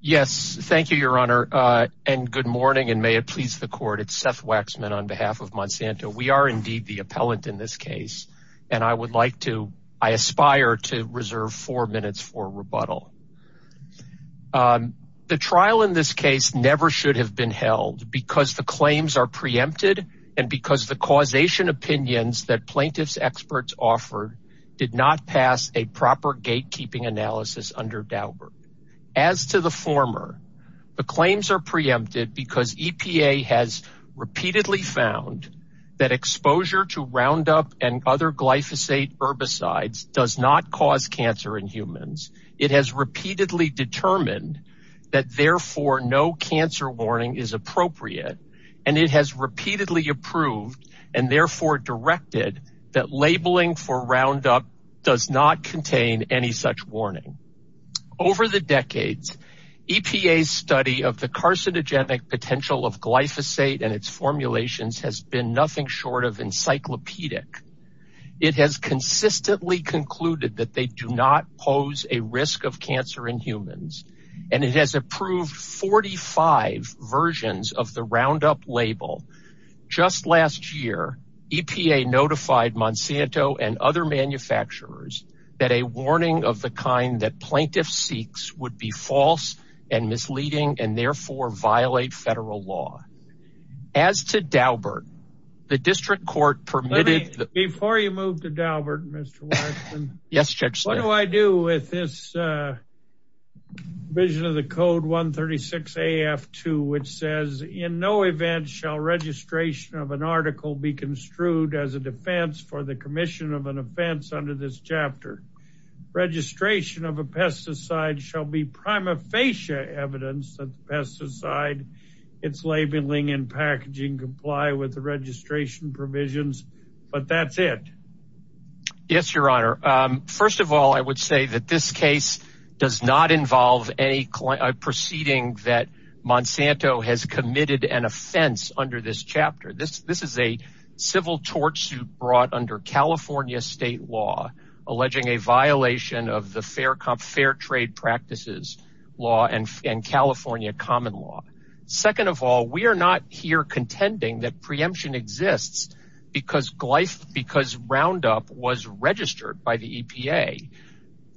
yes thank you your honor uh and good morning and may it please the court it's seth waxman on behalf of monsanto we are indeed the appellant in this case and i would like to i aspire to reserve four minutes for rebuttal um the trial in this case never should have been held because the claims are preempted and because the causation opinions that plaintiffs experts offered did not pass a former the claims are preempted because epa has repeatedly found that exposure to roundup and other glyphosate herbicides does not cause cancer in humans it has repeatedly determined that therefore no cancer warning is appropriate and it has repeatedly approved and therefore directed that labeling for roundup does not contain any such warning over the decades epa's study of the carcinogenic potential of glyphosate and its formulations has been nothing short of encyclopedic it has consistently concluded that they do not pose a risk of cancer in humans and it has approved 45 versions of the roundup label just last year epa notified monsanto and other manufacturers that a warning of the kind that plaintiffs seeks would be false and misleading and therefore violate federal law as to daubert the district court permitted before you move to daubert mr. 2 which says in no event shall registration of an article be construed as a defense for the commission of an offense under this chapter registration of a pesticide shall be prima facie evidence of pesticide its labeling and packaging comply with the registration provisions but that's it yes your honor um first of all i would say that this case does not involve a proceeding that monsanto has committed an offense under this chapter this this is a civil tort suit brought under california state law alleging a violation of the fair cop fair trade practices law and california common law second of all we are not here contending that preemption exists because glyph because roundup was registered by the epa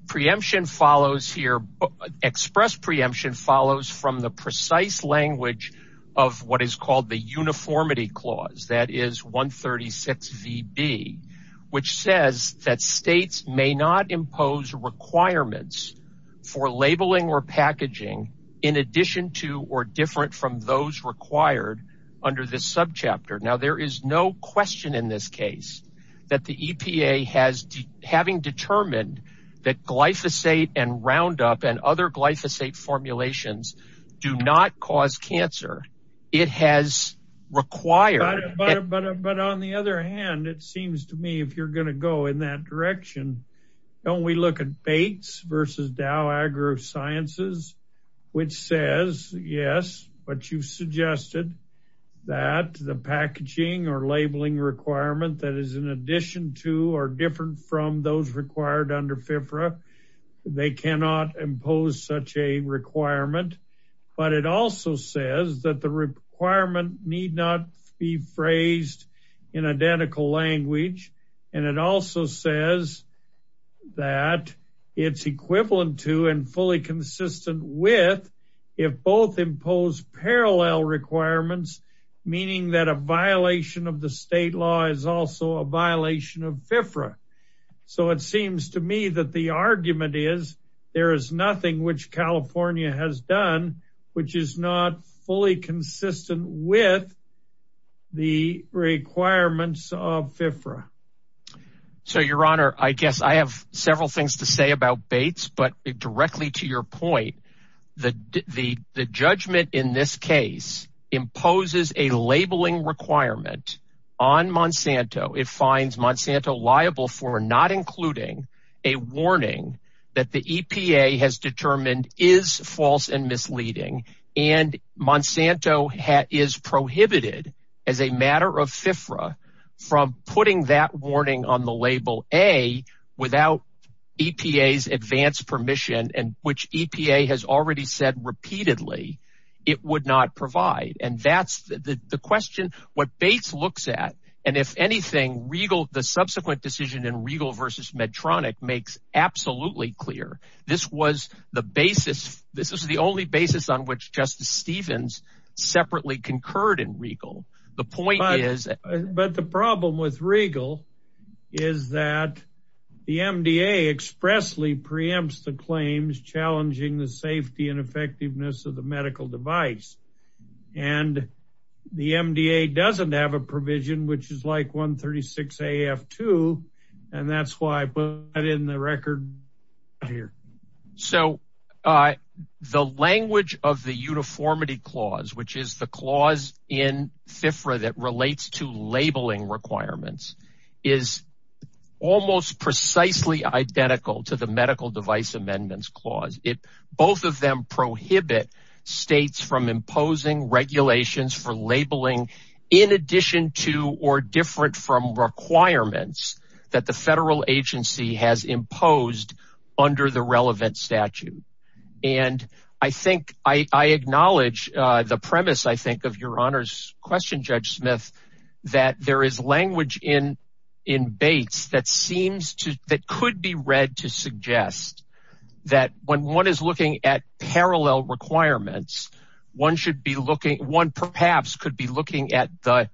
preemption follows here express preemption follows from the precise language of what is called the uniformity clause that is 136 vb which says that states may not impose requirements for labeling or packaging in addition to or different from those required under this subchapter now there is no question in this case that the epa has having determined that glyphosate and roundup and other glyphosate formulations do not cause cancer it has required but but on the other hand it seems to me if you're going to go in that direction don't we look at bates versus dow agro sciences which says yes but you've suggested that the packaging or labeling requirement that is in addition to or different from those required under fibra they cannot impose such a requirement but it also says that the requirement need not be phrased in identical language and it also says that it's parallel requirements meaning that a violation of the state law is also a violation of fifra so it seems to me that the argument is there is nothing which california has done which is not fully consistent with the requirements of fifra so your honor i guess i have several things to this case imposes a labeling requirement on monsanto it finds monsanto liable for not including a warning that the epa has determined is false and misleading and monsanto hat is prohibited as a matter of fifra from putting that warning on the label a without epa's advanced and that's the the question what bates looks at and if anything regal the subsequent decision in regal versus medtronic makes absolutely clear this was the basis this is the only basis on which justice stevens separately concurred in regal the point is but the problem with regal is that the mda expressly preempts the claims challenging the safety and effectiveness of the device and the mda doesn't have a provision which is like 136 af2 and that's why i put it in the record here so uh the language of the uniformity clause which is the clause in fifra that relates to labeling requirements is almost precisely identical to the medical device amendments clause it both of them prohibit states from imposing regulations for labeling in addition to or different from requirements that the federal agency has imposed under the relevant statute and i think i i acknowledge uh the premise i think of your honor's question judge smith that there is language in in baits that seems to that could be read to suggest that when one is looking at parallel requirements one should be looking one perhaps could be looking at the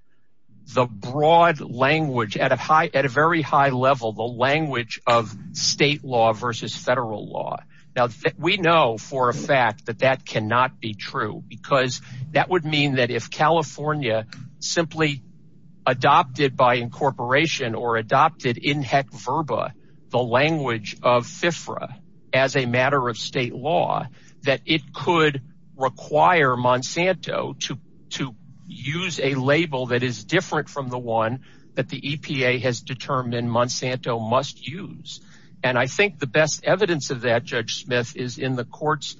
the broad language at a high at a very high level the language of state law versus federal law now we know for a fact that that cannot be true because that would mean that if california simply adopted by incorporation or adopted in heck verba the language of fifra as a matter of state law that it could require monsanto to to use a label that is different from the one that the epa has determined monsanto must use and i think the best evidence of that judge smith is in the court's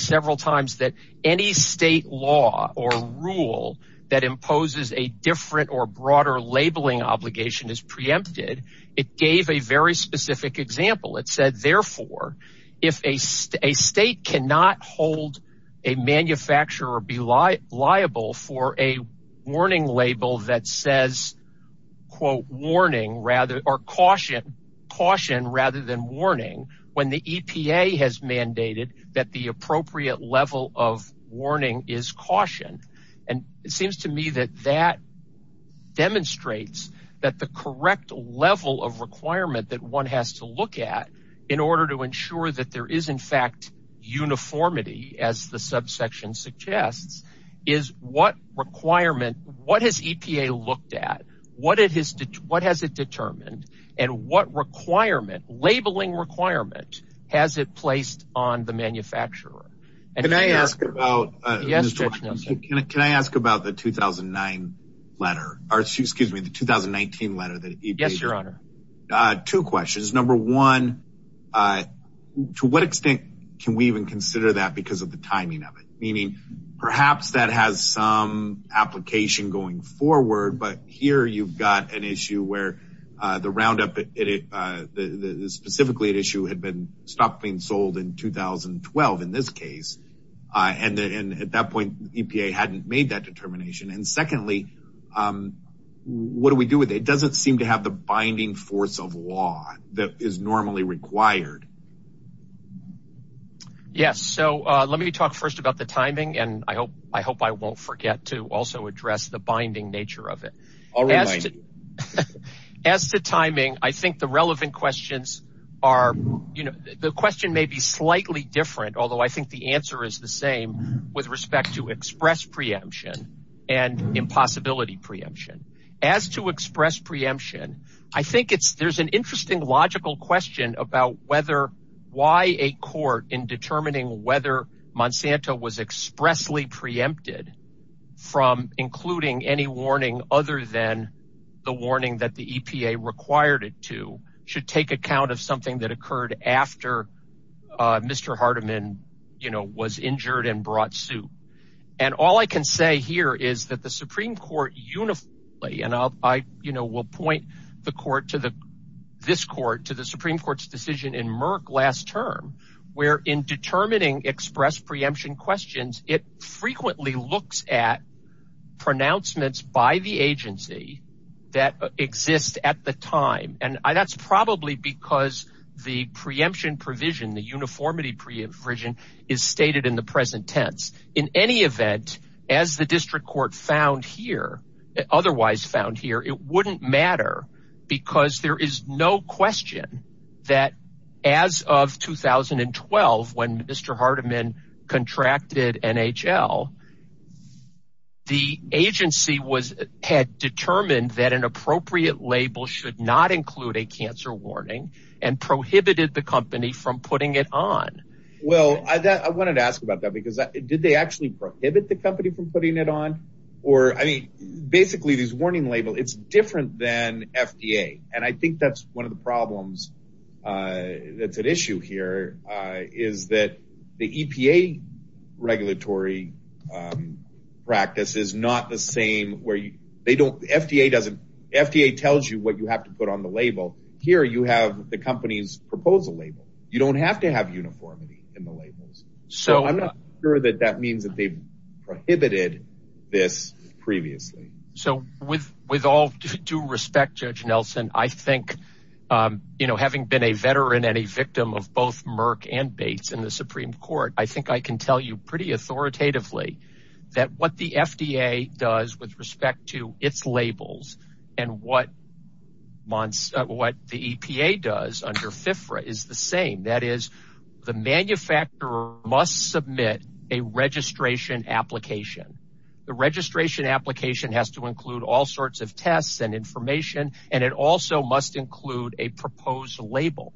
several times that any state law or rule that imposes a different or broader labeling obligation is preempted it gave a very specific example it said therefore if a state cannot hold a manufacturer or be liable for a warning label that says quote warning rather or caution caution rather than when the epa has mandated that the appropriate level of warning is cautioned and it seems to me that that demonstrates that the correct level of requirement that one has to look at in order to ensure that there is in fact uniformity as the subsection suggests is what requirement what has looked at what it has what has it determined and what requirement labeling requirement has it placed on the manufacturer and i asked about uh yes can i ask about the 2009 letter or excuse me the 2019 letter that yes your honor uh two questions number one uh to what extent can we even consider that because of the timing of it meaning perhaps that has some application going forward but here you've got an issue where uh the roundup at it uh the specifically an issue had been stopped being sold in 2012 in this case uh and and at that point epa hadn't made that determination and secondly um what do we do with it doesn't seem to have the binding force of law that is normally required yes so uh let me talk first about the timing and i hope i hope i won't forget to also address the binding nature of it as the timing i think the relevant questions are you know the question may be slightly different although i think the answer is the same with respect to express preemption and impossibility preemption as to express preemption i think it's there's an interesting logical question about whether why a court in determining whether monsanto was expressly preempted from including any warning other than the warning that the epa required it to should take account of something that occurred after uh mr hardeman you know was injured and brought suit and all i can say here is that the supreme court uniformly and i you know will point the court to the this court to the in merc last term where in determining express preemption questions it frequently looks at pronouncements by the agency that exist at the time and that's probably because the preemption provision the uniformity provision is stated in the present tense in any event as the district court found here otherwise found here it wouldn't matter because there is no question that as of 2012 when mr hardeman contracted nhl the agency was had determined that an appropriate label should not include a cancer warning and prohibited the company from putting it on well i that i wanted to ask about that because did they actually prohibit the company from putting it on or i mean basically this warning label it's different than fda and i think that's one of problems uh that's at issue here uh is that the epa regulatory um practice is not the same where they don't fda doesn't fda tells you what you have to put on the label here you have the company's proposal label you don't have to have uniformity in the labels so i'm not sure that that means prohibited this previously so with with all due respect judge nelson i think um you know having been a veteran and a victim of both murk and bates in the supreme court i think i can tell you pretty authoritatively that what the fda does with respect to its labels and what months what the epa does under fifra is the same that is the manufacturer must submit a registration application the registration application has to include all sorts of tests and information and it also must include a proposed label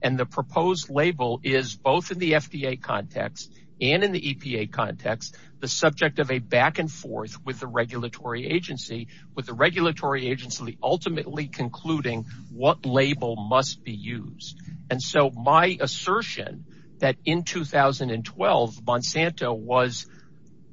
and the proposed label is both in the fda context and in the epa context the subject of a back and forth with the regulatory agency with the regulatory agency ultimately concluding what label must be used and so my assertion that in 2012 monsanto was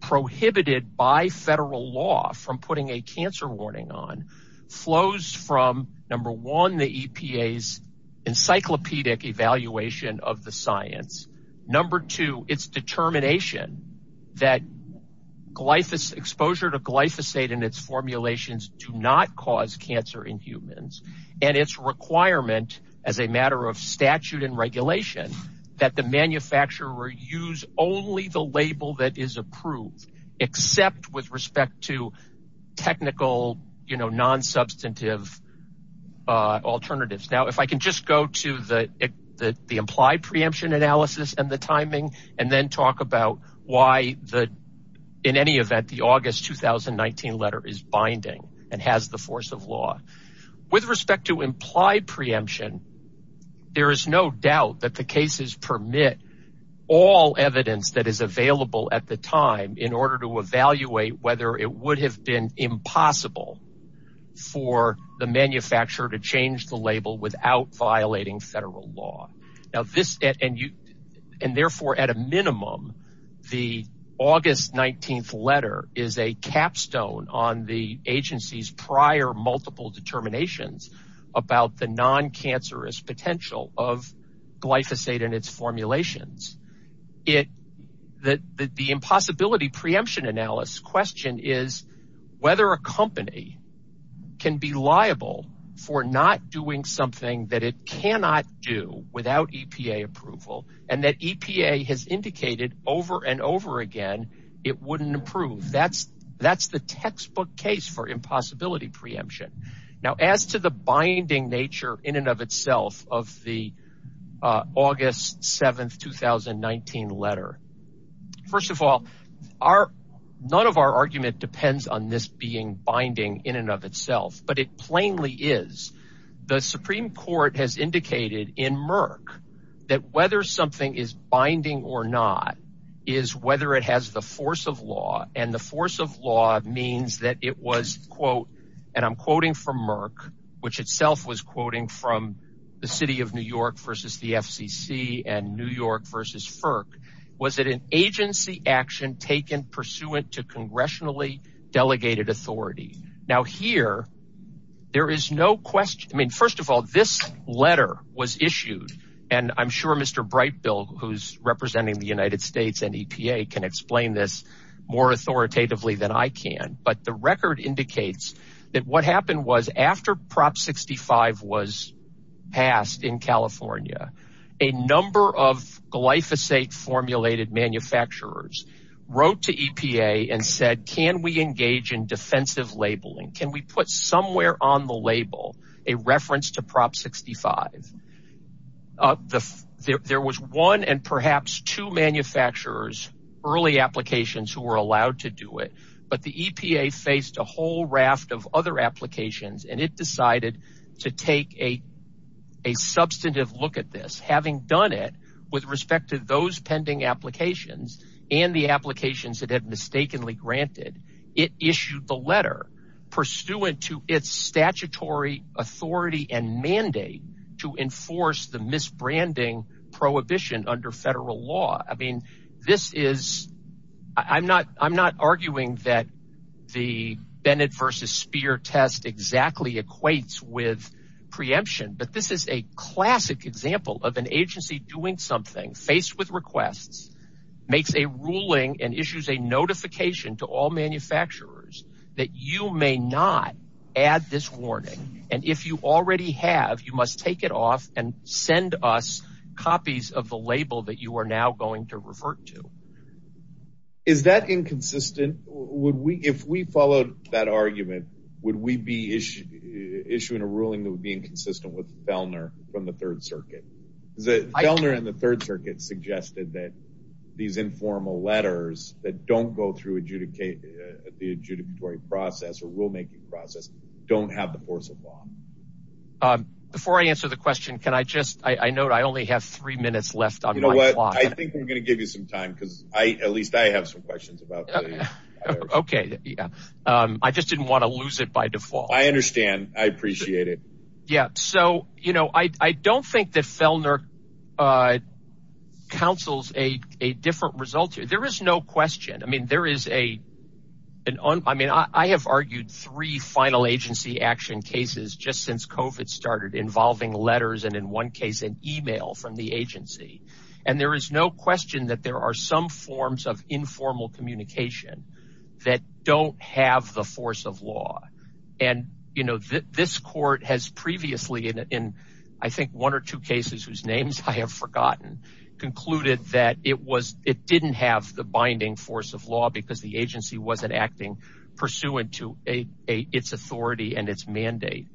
prohibited by federal law from putting a cancer warning on flows from number one the epa's encyclopedic evaluation of the science number two its determination that glyphosate exposure to glyphosate in its formulations do not cause cancer in humans and its requirement as a matter of statute and regulation that the manufacturer use only the label that is approved except with respect to technical you know non-substantive uh alternatives now if i can just go to the the implied preemption analysis and the timing and then talk about why the in any event the august 2019 letter is binding and has the force of law with respect to implied preemption there is no doubt that the cases permit all evidence that is available at the time in order to evaluate whether it would have been impossible for the manufacturer to change the label without violating federal law now this and you and therefore at a minimum the august 19th letter is a capstone on the agency's prior multiple determinations about the non-cancerous potential of glyphosate and its formulations it that the impossibility preemption analysis question is whether a company can be liable for not doing something that it cannot do without epa approval and that epa has indicated over and over again it wouldn't improve that's that's the textbook case for impossibility preemption now as to the binding nature in and of itself of the august 7th 2019 letter first of all our none of our argument depends on this being binding in and of itself but it plainly is the supreme court has indicated in merc that whether something is binding or not is whether it has the force of law and the force of law means that it was quote and i'm quoting from merc which itself was quoting from the city of new york versus the fcc and new york versus firk was it an agency action taken pursuant to congressionally delegated authority now here there is no question i mean first of all this letter was issued and i'm sure mr bright bill who's representing the united states and epa can explain this more authoritatively than i can but the record indicates that what happened was after prop 65 was passed in california a number of glyphosate formulated manufacturers wrote to epa and said can we engage in defensive labeling can we put somewhere on the label a reference to prop 65 uh the there was one and the epa faced a whole raft of other applications and it decided to take a a substantive look at this having done it with respect to those pending applications and the applications that had mistakenly granted it issued the letter pursuant to its statutory authority and mandate to enforce the misbranding prohibition under federal law i mean this is i'm not i'm not arguing that the bennett versus spear test exactly equates with preemption but this is a classic example of an agency doing something faced with requests makes a ruling and issues a notification to all manufacturers that you may not add this warning and if you already have you must take it off and send us copies of the label that you are now going to revert to is that inconsistent would we if we followed that argument would we be issued issuing a ruling that would be inconsistent with fellner from the third circuit the fellner in the third circuit suggested that these informal letters that don't go through adjudicate the adjudicatory process or rulemaking process don't have the force of law um before i answer the question can i just i i know i only have three minutes left on you know what i think we're going to give you some time because i at least i have some questions about okay yeah um i just didn't want to lose it by default i understand i appreciate it yeah so you know i i don't think that fellner uh counsels a a different result there is no question i mean there is a an un i mean i have argued three final agency action cases just since covet started involving letters and in one case an email from the agency and there is no question that there are some forms of informal communication that don't have the force of law and you know this court has previously in i think one or two cases whose names i have forgotten concluded that it was it didn't have the binding force of law because the agency wasn't acting pursuant to a its authority and its mandate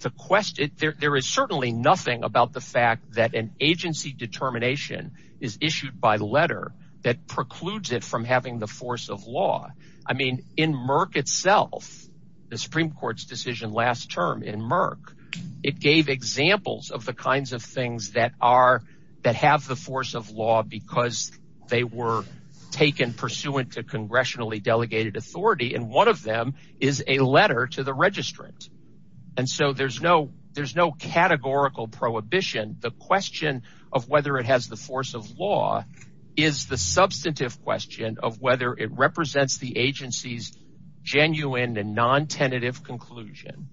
the quest there is certainly nothing about the fact that an agency determination is issued by letter that precludes it from having the force of law i mean in murk itself the supreme court's decision last term in murk it gave examples of the kinds of things that are that have the force of law because they were taken pursuant to congressionally delegated authority and one of them is a letter to the registrant and so there's no there's no categorical prohibition the question of whether it has the force of law is the substantive question of whether it represents the agency's genuine and non-tentative conclusion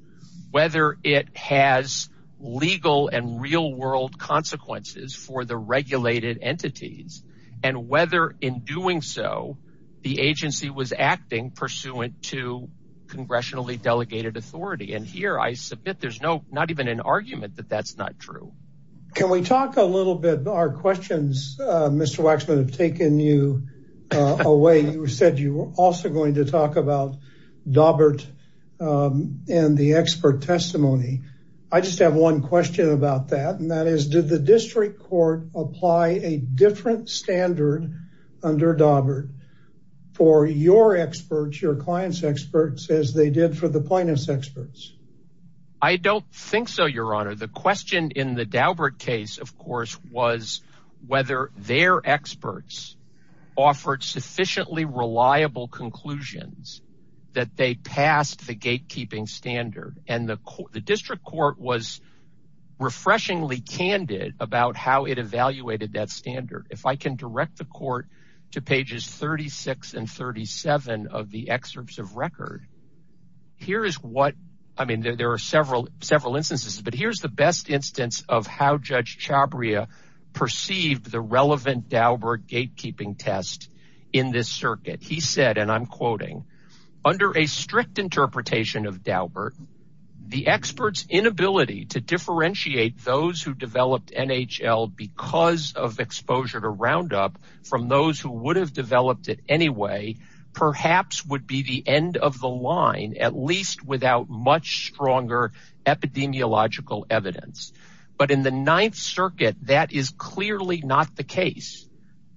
whether it has legal and real world consequences for the regulated entities and whether in doing so the agency was acting pursuant to congressionally delegated authority and here i submit there's no not even an argument that that's not true can we talk a little bit our questions uh mr waxman have taken you uh away you said you were also going to talk about dobbert um and the expert testimony i just have one question about that and that is did the district court apply a different standard under dobbert for your experts your clients experts as they did for the plaintiffs experts i don't think so your honor the question in the daubert case of course was whether their experts offered sufficiently reliable conclusions that they passed the gatekeeping standard and the the district court was refreshingly candid about how it evaluated that standard if i can direct the court to pages 36 and 37 of the excerpts of record here is what i mean there are several several instances but here's the best instance of how judge chabria perceived the relevant daubert gatekeeping test in this circuit he said and i'm quoting under a strict interpretation of daubert the experts inability to differentiate those who developed nhl because of exposure to round up from those who would have developed it anyway perhaps would be the end of the line at least without much stronger epidemiological evidence but in the ninth circuit that is clearly not the case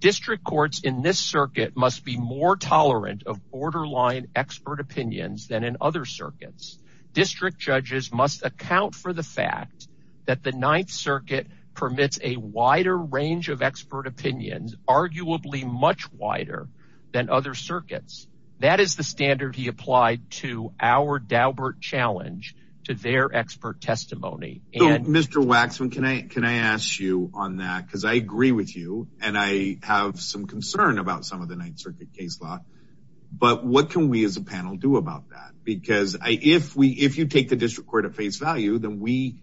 district courts in this circuit must be more tolerant of borderline expert opinions than in other circuits district judges must account for the fact that the ninth circuit permits a wider range of expert opinions arguably much wider than other circuits that is the standard he applied to our daubert challenge to their expert testimony and mr waxman can i can i ask you on that because i agree with you and i have some concern about some of the ninth circuit case law but what can we as a panel do about that because i if we if you take the district court at face value then we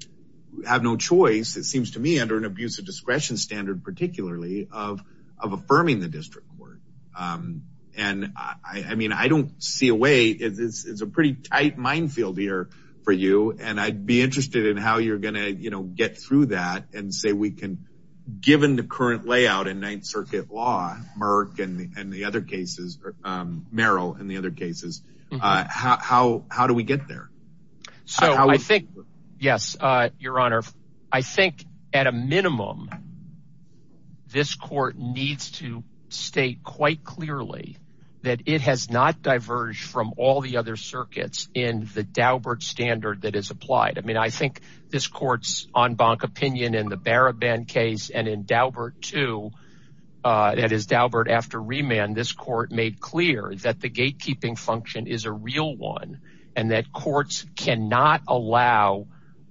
have no choice it seems to me under an abuse of discretion standard particularly of of affirming the district court um and i i mean i don't see a way it's a pretty tight minefield here for you and i'd be interested in how you're gonna you know get through that and say we can given the current layout in ninth circuit law murk and and the other cases or um merrill and the other cases uh how how do we get there so i think yes uh your honor i think at a minimum this court needs to state quite clearly that it has not diverged from all the other circuits in the daubert standard that is applied i mean i think this court's en banc opinion in the baraband case and in daubert too uh that is daubert after remand this court made clear that the gatekeeping function is a real one and that courts cannot allow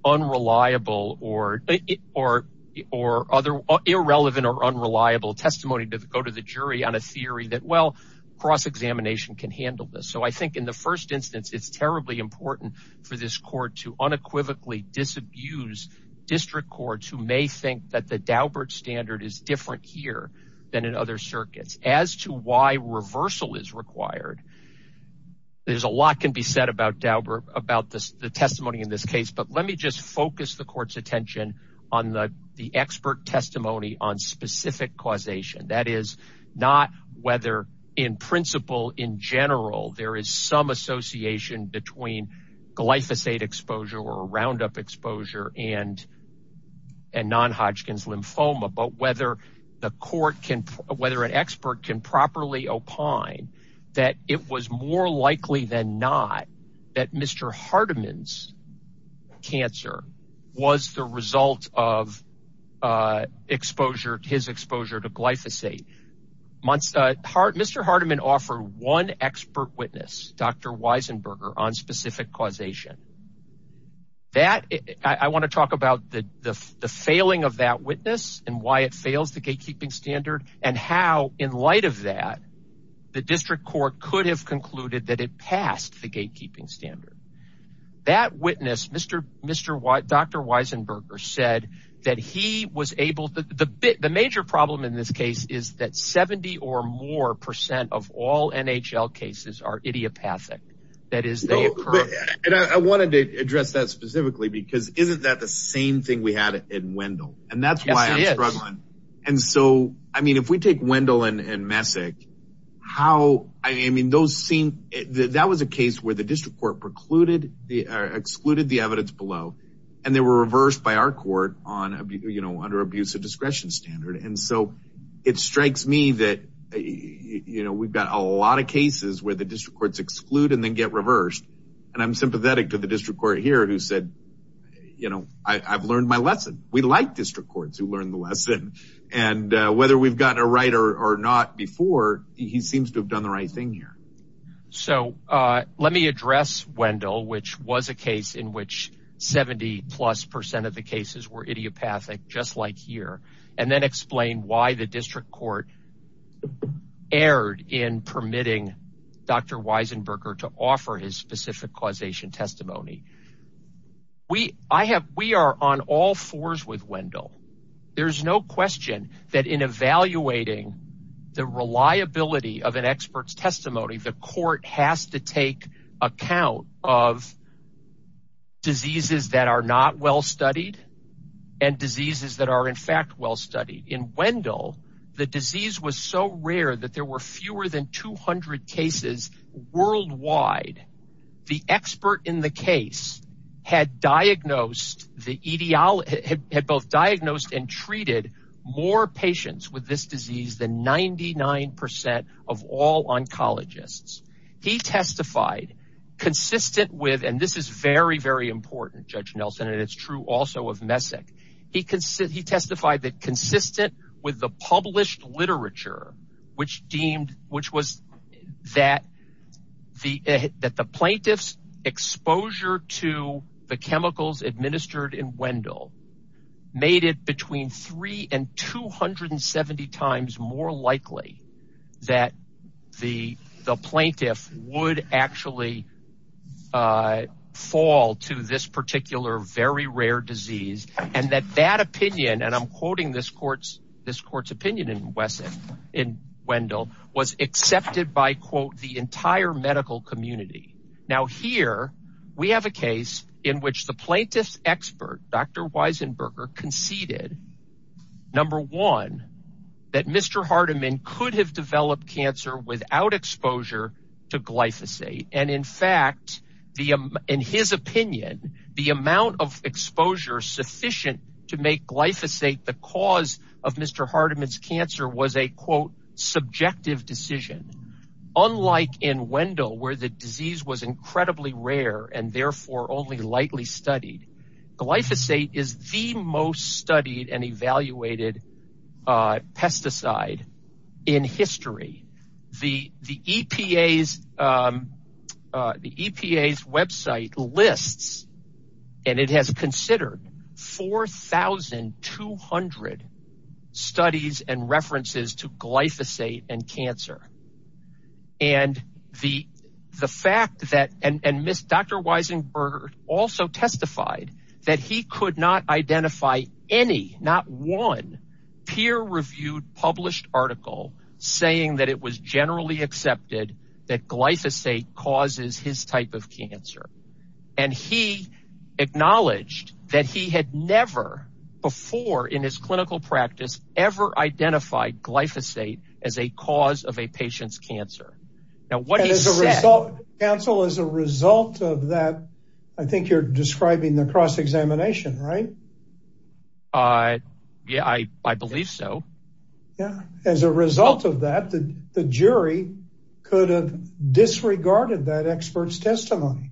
unreliable or or or other irrelevant or unreliable testimony to go to the jury on a theory that well cross-examination can handle this so i think in the first instance it's terribly important for this court to unequivocally disabuse district courts who may think that the daubert standard is different here than in other circuits as to why reversal is required there's a lot can be said about daubert about this the testimony in this case but let me just focus the court's attention on the the expert testimony on specific causation that is not whether in principle in general there is some association between glyphosate exposure or roundup exposure and and non-hodgkin's lymphoma but whether the court can whether an expert can properly opine that it was more likely than not that mr hardeman's cancer was the result of uh mr hardeman offered one expert witness dr weisenberger on specific causation that i want to talk about the the failing of that witness and why it fails the gatekeeping standard and how in light of that the district court could have concluded that it passed the gatekeeping standard that witness mr mr why dr weisenberger said that he was able to the bit the major problem in this case is that 70 or more percent of all nhl cases are idiopathic that is they and i wanted to address that specifically because isn't that the same thing we had in wendell and that's why i'm struggling and so i mean if we take wendell and and messick how i mean those seem that that was a case where the district court precluded the excluded the evidence below and they were so it strikes me that you know we've got a lot of cases where the district courts exclude and then get reversed and i'm sympathetic to the district court here who said you know i i've learned my lesson we like district courts who learned the lesson and uh whether we've got a writer or not before he seems to have done the right thing here so uh let me address wendell which was a case in which 70 plus percent of the cases were idiopathic just like here and then explain why the district court erred in permitting dr weisenberger to offer his specific causation testimony we i have we are on all fours with wendell there's no question that in evaluating the reliability of an expert's testimony the court has to take account of diseases that are not well studied and diseases that are in fact well studied in wendell the disease was so rare that there were fewer than 200 cases worldwide the expert in the case had diagnosed the ideology had both diagnosed and treated more patients with this disease than 99 percent of all oncologists he testified consistent with and this is very very important judge nelson and it's true also of messick he considered he testified that consistent with the published the chemicals administered in wendell made it between three and 270 times more likely that the the plaintiff would actually uh fall to this particular very rare disease and that that opinion and i'm quoting this court's this court's opinion in wesson in wendell was accepted by quote the entire medical community now here we have a case in which the plaintiff's expert dr weisenberger conceded number one that mr hardeman could have developed cancer without exposure to glyphosate and in fact the in his opinion the amount of exposure sufficient to unlike in wendell where the disease was incredibly rare and therefore only lightly studied glyphosate is the most studied and evaluated uh pesticide in history the the epa's um the epa's website lists and it has considered 4 200 studies and references to glyphosate and cancer and the the fact that and and miss dr weisenberg also testified that he could not identify any not one peer-reviewed published article saying that it was generally accepted that glyphosate causes his type of cancer and he acknowledged that he had never before in his clinical practice ever identified glyphosate as a cause of a patient's cancer now what is a result counsel as a result of that i think you're describing the cross-examination right uh yeah i i believe so yeah as a result of that the jury could have disregarded that expert's testimony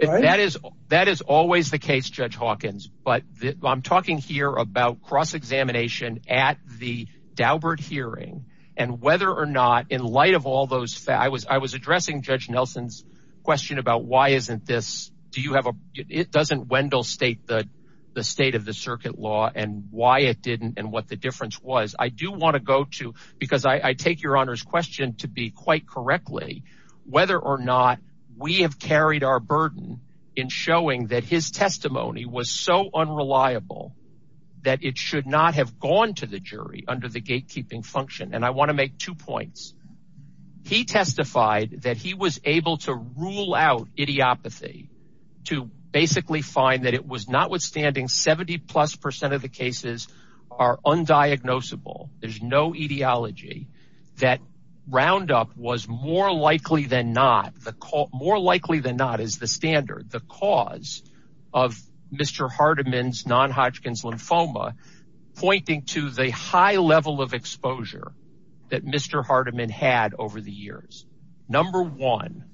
and that is that is always the case judge hawkins but i'm talking here about cross examination at the daubert hearing and whether or not in light of all those facts i was i was addressing judge nelson's question about why isn't this do you have a it doesn't wendell state the the state of the circuit law and why it didn't and what the difference was i do want to go to because i i take your honor's question to be quite correctly whether or not we have carried our have gone to the jury under the gatekeeping function and i want to make two points he testified that he was able to rule out idiopathy to basically find that it was notwithstanding 70 plus percent of the cases are undiagnosable there's no ideology that roundup was more likely than not the call more likely than not is the standard the cause of mr hardeman's non-hodgkin's lymphoma pointing to the high level of exposure that mr hardeman had over the years number one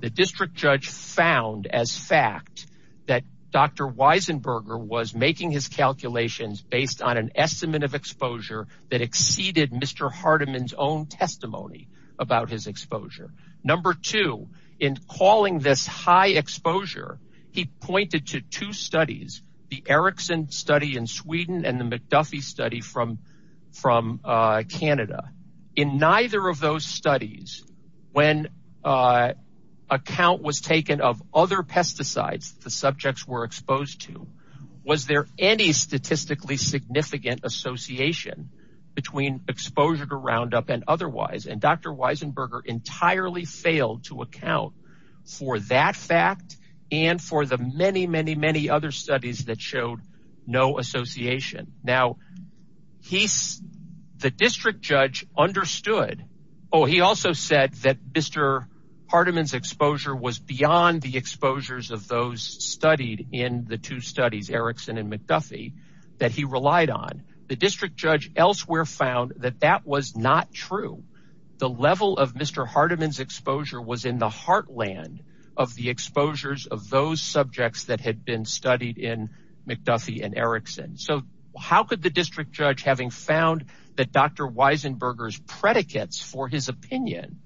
the district judge found as fact that dr weisenberger was making his calculations based on an estimate of exposure that exceeded mr hardeman's own testimony about his exposure number two in calling this high exposure he pointed to two studies the erickson study in sweden and the mcduffie study from from uh canada in neither of those studies when uh a count was taken of other pesticides the subjects were exposed to was there any statistically significant association between exposure to round up and otherwise and dr weisenberger entirely failed to account for that fact and for the many many many other studies that showed no association now he's the district judge understood oh he also said that mr hardeman's exposure was beyond the exposures of those studied in the two studies erickson and mcduffie that he relied on the district judge elsewhere found that that was not true the level of mr hardeman's exposure was in the heartland of the exposures of those subjects that had been studied in mcduffie and erickson so how could the district judge having found that dr weisenberger's predicates for his opinion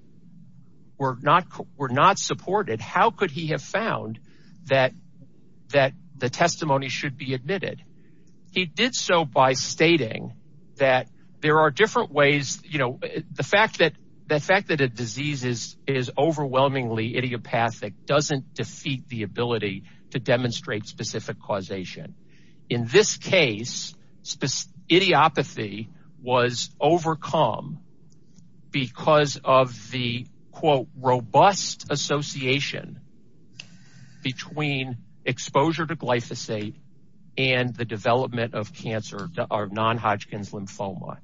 were not were not supported how could he have found that that the testimony should be admitted he did so by stating that there are different ways you know the fact that the fact that a disease is is overwhelmingly idiopathic doesn't defeat the ability to demonstrate specific causation in this case idiopathy was overcome because of the quote robust association between exposure to glyphosate and the development of cancer to our non-hodgkin's lymphoma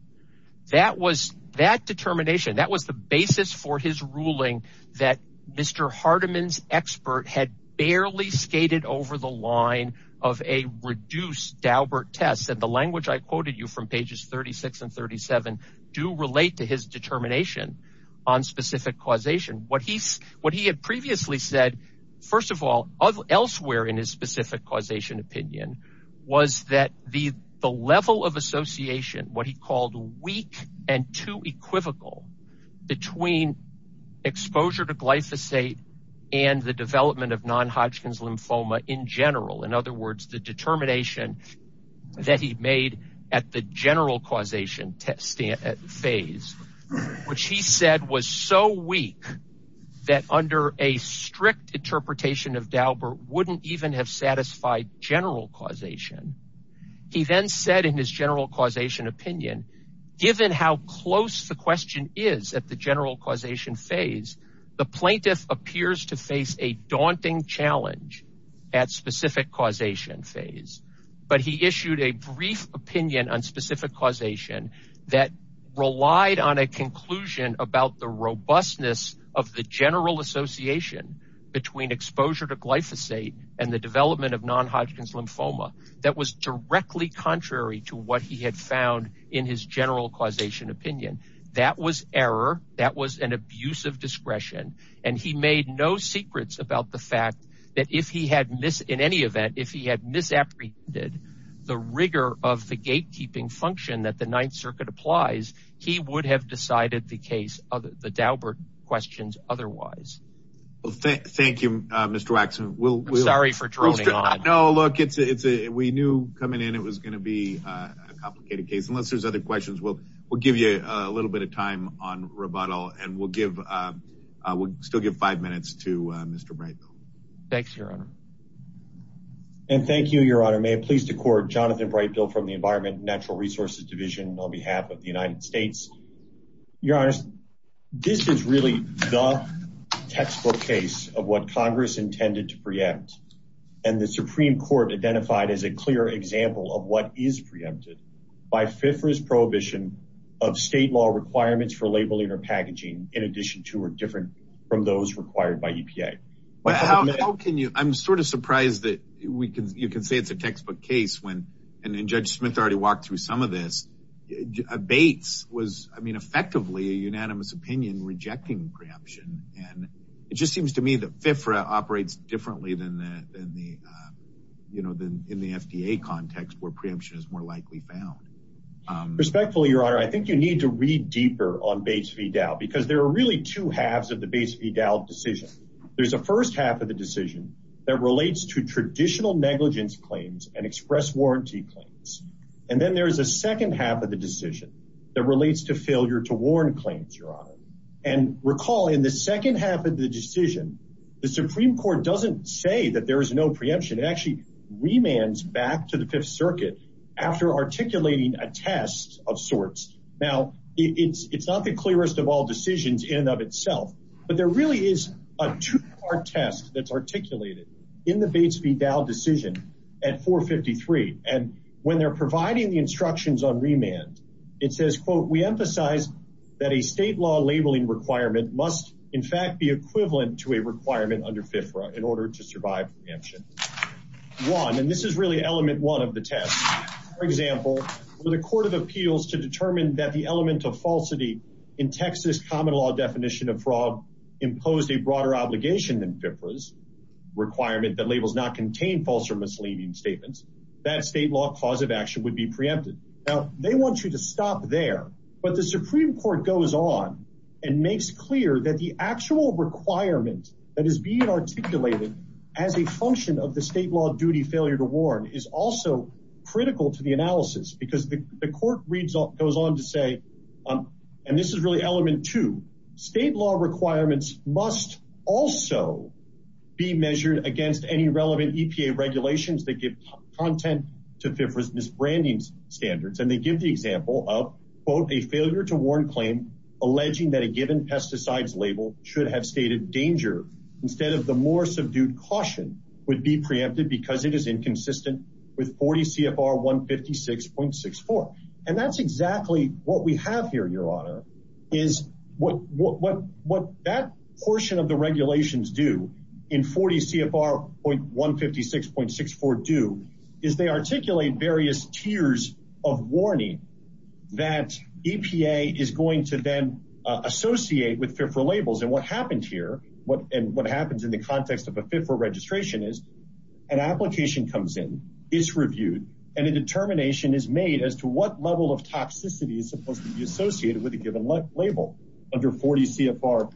that was that determination that was the basis for his ruling that mr hardeman's expert had barely skated over the line of a reduced daubert test and the language i quoted you from pages 36 and 37 do relate to his determination on specific causation what he what he had previously said first of all elsewhere in his specific causation opinion was that the the level of association what he called weak and too equivocal between exposure to glyphosate and the development of non-hodgkin's lymphoma in general in other words the determination that he made at the general causation test phase which he said was so weak that under a strict interpretation of daubert wouldn't even have satisfied general causation he then said in his general causation opinion given how close the question is at the general causation phase the plaintiff appears to face a daunting challenge at specific causation phase but he issued a brief opinion on specific causation that relied on a conclusion about the robustness of the general association between exposure to glyphosate and the development of non-hodgkin's lymphoma that was directly contrary to what he had found in his general causation opinion that was error that was an abusive discretion and he made no secrets about the fact that if he had missed any event if he had misapprehended the rigor of the gatekeeping function that the ninth circuit applies he would have decided the case of the daubert questions otherwise well thank thank you uh mr waxman we'll sorry for throwing it on no look it's a it's a we knew coming in it was going to be uh a complicated case unless there's other questions we'll we'll give you a little bit of time on rebuttal and we'll give uh we'll still give five minutes to uh mr brightville thanks your honor and thank you your honor may it please the court jonathan brightfield from the environment natural resources division on behalf of the united states your honor this is really the textbook case of what congress intended to preempt and the supreme court identified as a clear example of what is preempted by fifra's prohibition of state law requirements for labeling or packaging in addition to or different from those required by epa well how can you i'm sort of surprised that we can you can say it's a textbook case when and then judge smith already walked through some of this debates was i mean effectively a unanimous opinion rejecting preemption and it just seems to me that fifra operates differently than that than the uh you know than in the fda context where preemption is more likely found respectfully your honor i think you need to read deeper on base v dow because there are really two halves of the base v dow decision there's a first half of the decision that relates to traditional negligence claims and express warranty claims and then there is a second half of the decision that relates to failure to warn claims your honor and recall in the second half of the decision the supreme court doesn't say that there is no preemption it actually remands back to the fifth circuit after articulating a test of sorts now it's it's not the clearest of all decisions in and of itself but there really is a two-part test that's articulated in the base v dow decision at 453 and when they're providing the instructions on remand it says quote we emphasize that a state law labeling requirement must in fact be equivalent to a requirement under fifra in order to survive preemption one and this is really element one of the test for example when the court of appeals to determine that the element of falsity in texas common law definition of fraud imposed a broader obligation than fifras requirement that labels not contain false or misleading statements that state law cause of action would be preempted now they want you to stop there but the supreme court goes on and makes clear that the actual requirement that is being articulated as a function of the state law duty failure to warn is also critical to the analysis because the court reads all goes on to say um and this is really element two state law requirements must also be measured against any relevant epa regulations that give content to fifra's branding standards and they give the example of quote a failure to warn claim alleging that a given pesticides label should have stated danger instead of the more subdued caution would be preempted because it is inconsistent with 40 cfr 156.64 and that's exactly what we have here your honor is what what what that portion of the regulations do in 40 cfr point 156.64 do is they articulate various tiers of warning that epa is going to then associate with fifra labels and what happens here what and what happens in the context of a fifra registration is an application comes in is reviewed and a determination is made as to what level of toxicity is supposed to be associated with a given left label under 40 cfr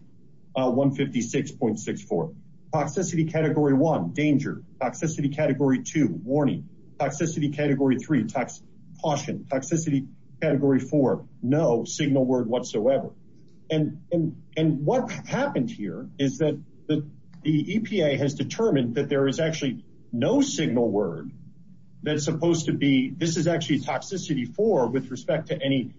156.64 toxicity category one danger toxicity category two warning toxicity category three tox caution toxicity category four no signal word whatsoever and and what happens here is that that the epa has determined that there is actually no signal word that's supposed to be this is actually toxicity four with respect to any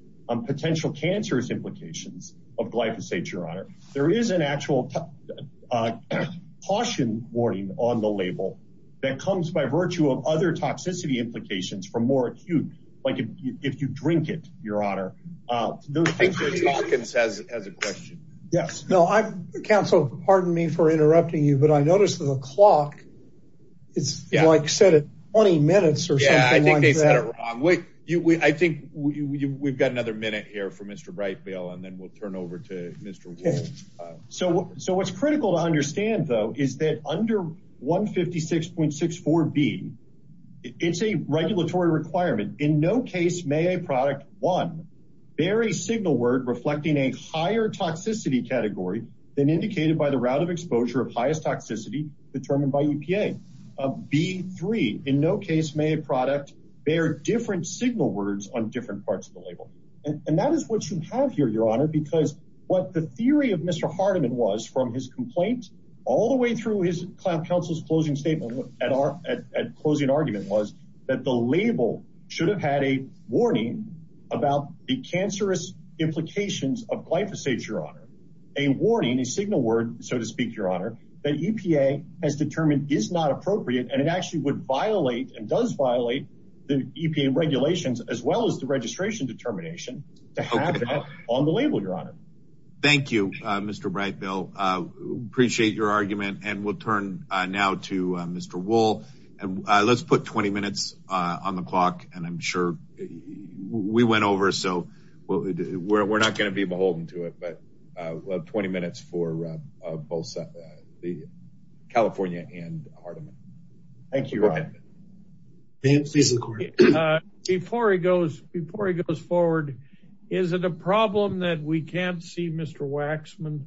potential cancerous implications of glyphosate your honor there is an actual uh caution warning on the label that comes by virtue of other toxicity implications for more acute like if you drink it your honor uh as a question yes no i counsel pardon me for interrupting you but i noticed the clock it's like said it's 20 minutes or something like that i think we've got another minute here for mr brightville and then we'll turn over to okay so so what's critical to understand though is that under 156.64 b it's a regulatory requirement in no case may a product one very signal word reflecting a higher toxicity category than indicated by the route of exposure of highest toxicity determined by epa of b3 in no case may a product bear different signal words on different parts of the label and that is what you have here your honor because what the theory of mr hardeman was from his complaints all the way through his client counsel's closing statement at our at closing argument was that the label should have had a warning about the cancerous implications of glyphosate your honor a warning a signal word so to speak your honor that epa has determined is not appropriate and actually would violate and does violate the epa regulations as well as the registration determination to have that on the label your honor thank you uh mr brightville uh appreciate your argument and we'll turn uh now to uh mr wool and let's put 20 minutes uh on the clock and i'm sure we went over so we're not going to be beholden to it but uh we'll have 20 minutes for uh both uh the california and that we can't see mr waxman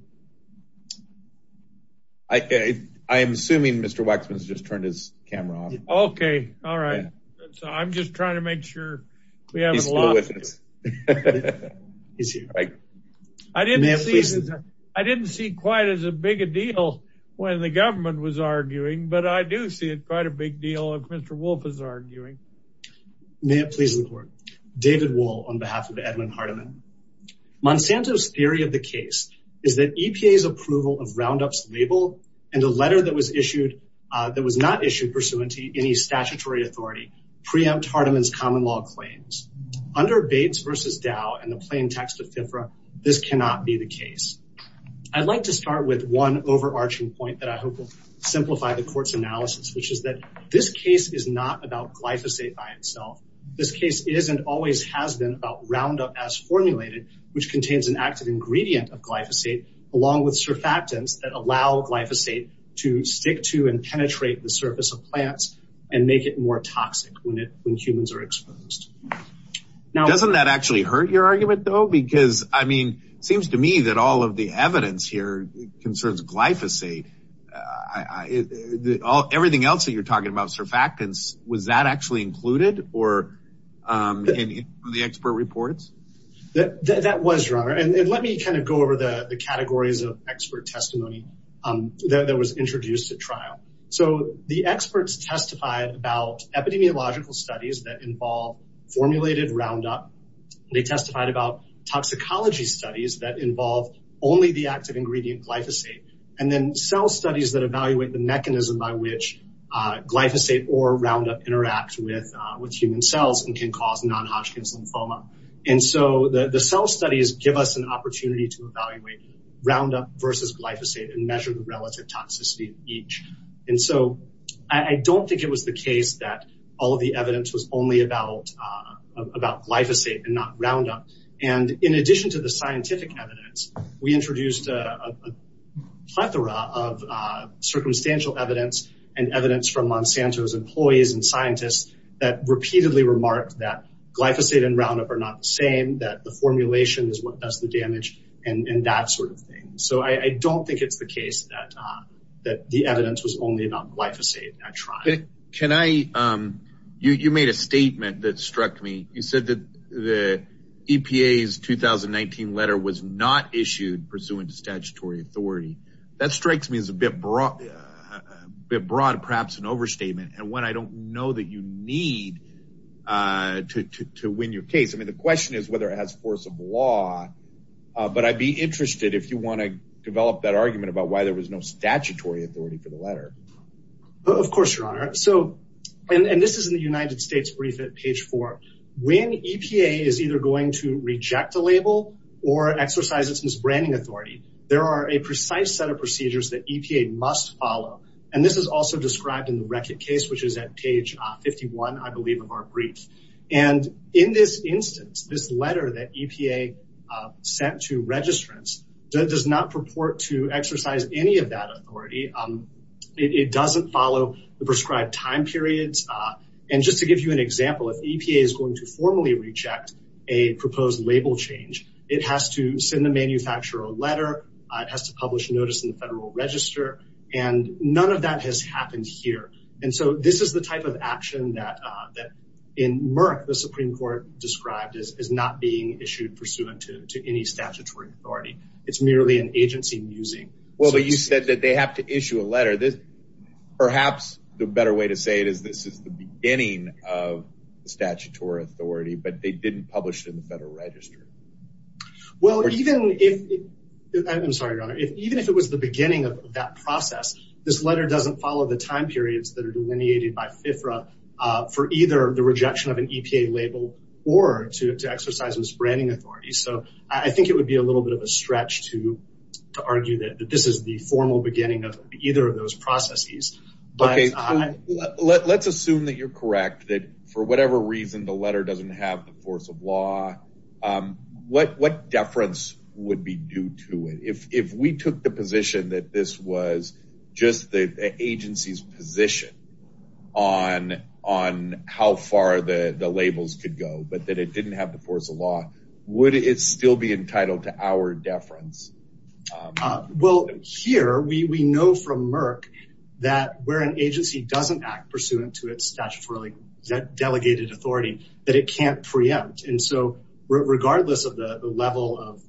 i i'm assuming mr waxman's just turned his camera on okay all right so i'm just trying to make sure i didn't see quite as a big a deal when the government was arguing but i do see it quite a big deal of mr wolf is arguing may i please report david wall on behalf of edmund hardeman monsanto's theory of the case is that epa's approval of roundup's label and the letter that was issued uh that was not issued pursuant to any statutory authority preempt hardeman's common law claims under bates versus dow and the plain text of tempera this cannot be the case i'd like to start with one overarching point that i hope will simplify the court's analysis which is that this case is not about glyphosate by itself this case is and always has been about roundup as formulated which contains an active ingredient of glyphosate along with surfactants that allow glyphosate to stick to and penetrate the surface of plants and make it more toxic when it when humans are exposed now doesn't that actually hurt your argument though because i mean seems to me that all of the evidence here concerns glyphosate i i that all everything else that you're talking about was that actually included or um the expert reports that that was your honor and let me kind of go over the categories of expert testimony um that was introduced to trial so the experts testified about epidemiological studies that involve formulated roundup they testified about toxicology studies that involve only the active ingredient glyphosate and then cell studies that evaluate the mechanism by which uh glyphosate or roundup interacts with with human cells and can cause non-hodgkin's lymphoma and so the the cell studies give us an opportunity to evaluate roundup versus glyphosate and measure the relative toxicity each and so i don't think it was the case that all the evidence was only about uh about glyphosate and not and in addition to the scientific evidence we introduced a plethora of uh circumstantial evidence and evidence from monsanto's employees and scientists that repeatedly remarked that glyphosate and roundup are not the same that the formulation is what does the damage and and that sort of thing so i i don't think it's the case that uh that the evidence was only about glyphosate can i um you you made a statement that struck me you said that the epa's 2019 letter was not issued pursuant to statutory authority that strikes me as a bit broad a bit broad perhaps an overstatement and what i don't know that you need uh to to win your case i mean the question is whether it has force of law uh but i'd be interested if you want to develop that argument about why there was no statutory authority for the letter of course your honor so and this is the united states brief at page four when epa is either going to reject the label or exercise its branding authority there are a precise set of procedures that epa must follow and this is also described in the record case which is at page 51 i believe of our brief and in this instance this any of that authority um it doesn't follow the prescribed time periods uh and just to give you an example if epa is going to formally reject a proposed label change it has to send the manufacturer a letter it has to publish notice in the federal register and none of that has happened here and so this is the type of action that uh that in murk the supreme court described as not being issued pursuant to any statutory authority it's merely an agency using well but you said that they have to issue a letter this perhaps the better way to say it is this is the beginning of the statutory authority but they didn't publish in the federal register well even if i'm sorry your honor if even if it was the beginning of that process this letter doesn't follow the time periods that are delineated by fitra for either the rejection of an epa label or to exercise the spreading authority so i think it would be a little bit of a stretch to to argue that this is the formal beginning of either of those processes but let's assume that you're correct that for whatever reason the letter doesn't have the force of law um what what deference would be due to it if if we took the position that this was just the agency's position on on how far the the labels could go but that it didn't have the force of law would it still be entitled to our deference well here we we know from murk that where an agency doesn't act pursuant to its statutory delegated authority that it can't preempt and so regardless of the the level of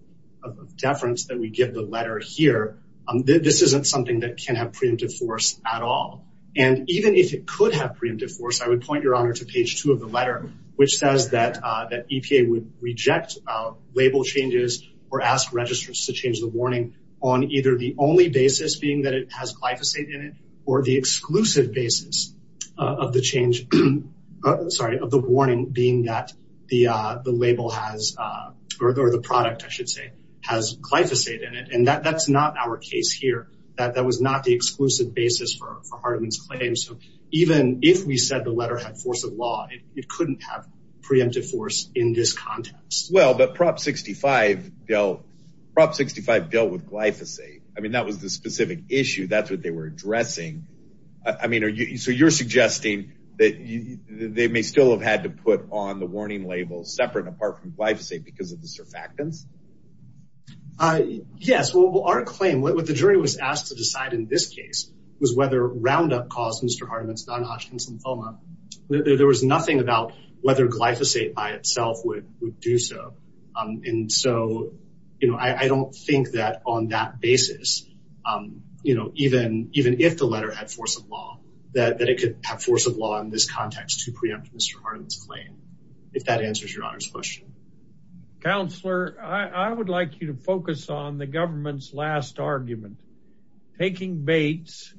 deference that we give the letter here um this isn't something that can have preemptive force at all and even if it could have preemptive force i would point your honor to page two of the letter which says that that epa would reject uh label changes or ask registers to change the warning on either the only basis being that it has glyphosate in it or the exclusive basis of the change sorry of the warning being that the uh the label has uh or the product i should say has glyphosate in it and that that's not our case here that that was not the exclusive basis for our claims so even if we said the letter had force of law it couldn't have preemptive force in this context well but prop 65 dealt prop 65 dealt with glyphosate i mean that was the specific issue that's what they were addressing i mean are you so you're suggesting that they may still have had to put on the warning separate apart from glyphosate because of the surfactants uh yes well our claim what the jury was asked to decide in this case was whether roundup caused mr hardeman's non-hospital there was nothing about whether glyphosate by itself would would do so um and so you know i i don't think that on that basis um you know even even if the letter had force of law that it could have force of law in this context to preempt mr harden's claim if that answers your honor's question counselor i i would like you to focus on the government's last argument taking baits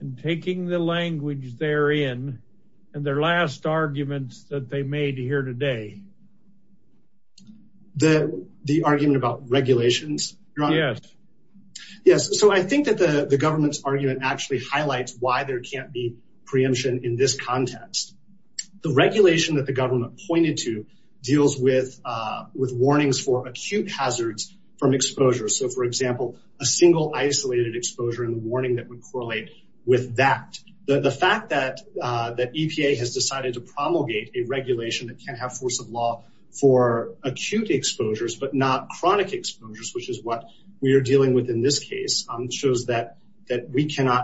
and taking the language they're in and their last arguments that they made here today the the argument about regulations yes yes so i think that the the government's argument actually highlights why there can't be preemption in this context the regulation that the government pointed to deals with uh with warnings for acute hazards from exposure so for example a single isolated exposure and warning that would correlate with that the the fact that uh that epa has decided to promulgate a regulation that can't have force of law for acute exposures but not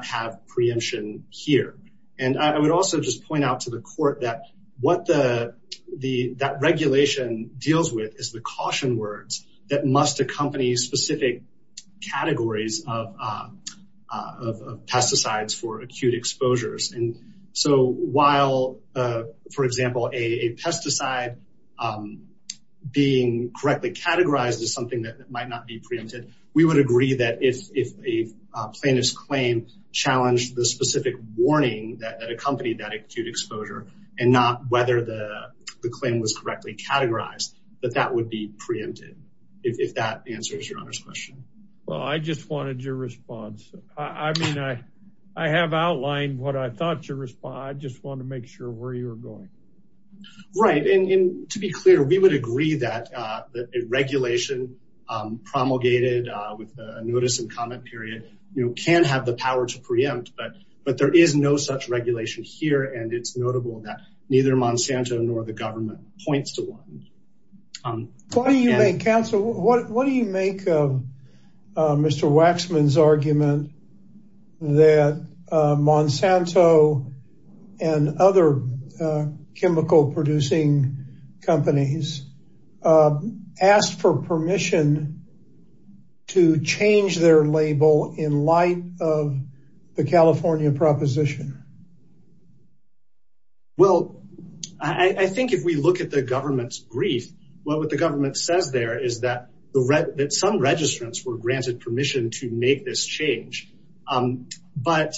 have preemption here and i would also just point out to the court that what the the that regulation deals with is the caution words that must accompany specific categories of uh of pesticides for acute exposures and so while uh for example a pesticide um being correctly categorized as something that might not be preempted we would agree that if if a plaintiff's claim challenged the specific warning that accompanied that acute exposure and not whether the the claim was correctly categorized that that would be preempted if that answers your honor's question well i just wanted your response i mean i i have outlined what i thought to respond i just want to make sure where you're going right and to be clear we would agree that uh that the regulation um promulgated uh with the notice and comment period you can have the power to preempt but but there is no such regulation here and it's notable that neither monsanto nor the government points to one um why do you make what do you make of mr waxman's argument that monsanto and other chemical producing companies asked for permission to change their label in light of the california proposition um well i i think if we look at the government's brief well what the government says there is that the that some registrants were granted permission to make this change um but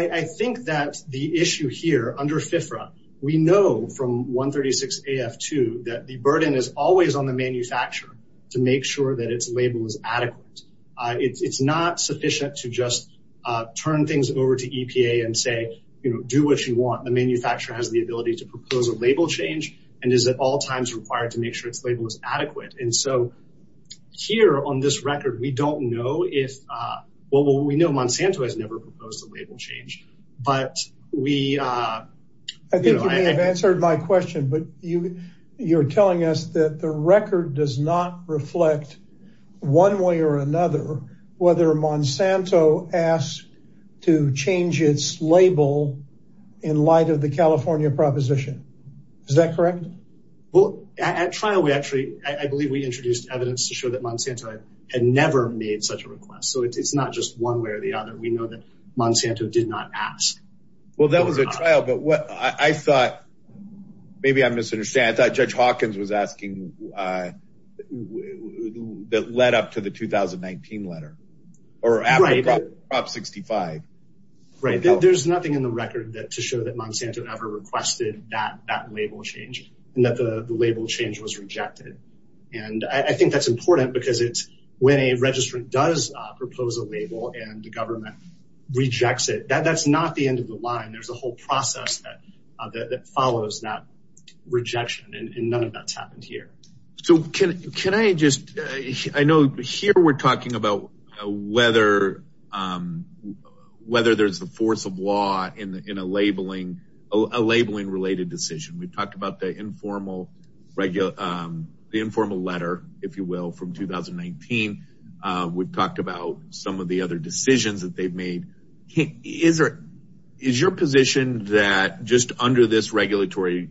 i i think that the issue here under fifra we know from 136 af2 that the burden is always on the manufacturer to make sure that its label is adequate uh it's not sufficient to just uh turn things over to epa and say you know do what you want the manufacturer has the ability to propose a label change and is at all times required to make sure its label is adequate and so here on this record we don't know if uh well we know monsanto has never proposed a label change but we uh i think you may have answered my question but you you're telling us that the record does not reflect one way or another whether monsanto asked to change its label in light of the california proposition is that correct well at trial we actually i believe we introduced evidence to show that monsanto had never made such a request so it's not just one way or the other we know that monsanto did not ask well that was a trial but what i thought maybe i misunderstand i thought uh that led up to the 2019 letter or africa prop 65 right there's nothing in the record that to show that monsanto never requested that that label change and that the label change was rejected and i think that's important because it's when a registrant does uh propose a label and the government rejects it that that's not the end of the line there's a whole process that that follows that rejection and none of that's happened here so can can i just i know here we're talking about whether um whether there's a force of law in a labeling a labeling related decision we talked about the informal regular um the informal letter if you will from 2019 uh we've talked about some of the other decisions that they've made is there is your position that just under this regulatory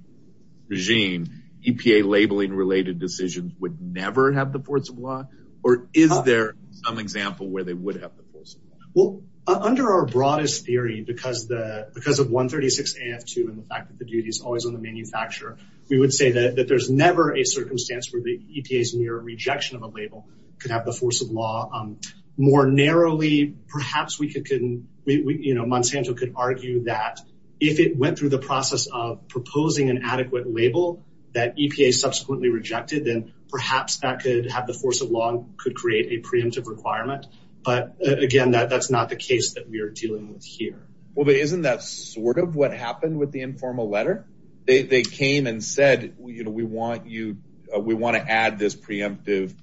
regime epa labeling related decisions would never have the force of law or is there an example where they would have the force of law well under our broadest theory because the because of 136 af2 and the fact that the duty is always on the manufacturer we would say that that there's never a circumstance where the epa's near rejection of a label could have the force of law um more narrowly perhaps we could can we you know monsanto could argue that if it went through the process of proposing an adequate label that epa subsequently rejected then perhaps that could have the force of law could create a preemptive requirement but again that that's not the case that we are dealing with here well but isn't that sort of what happened with the informal letter they they came and said you know we want you we want to add this preemptive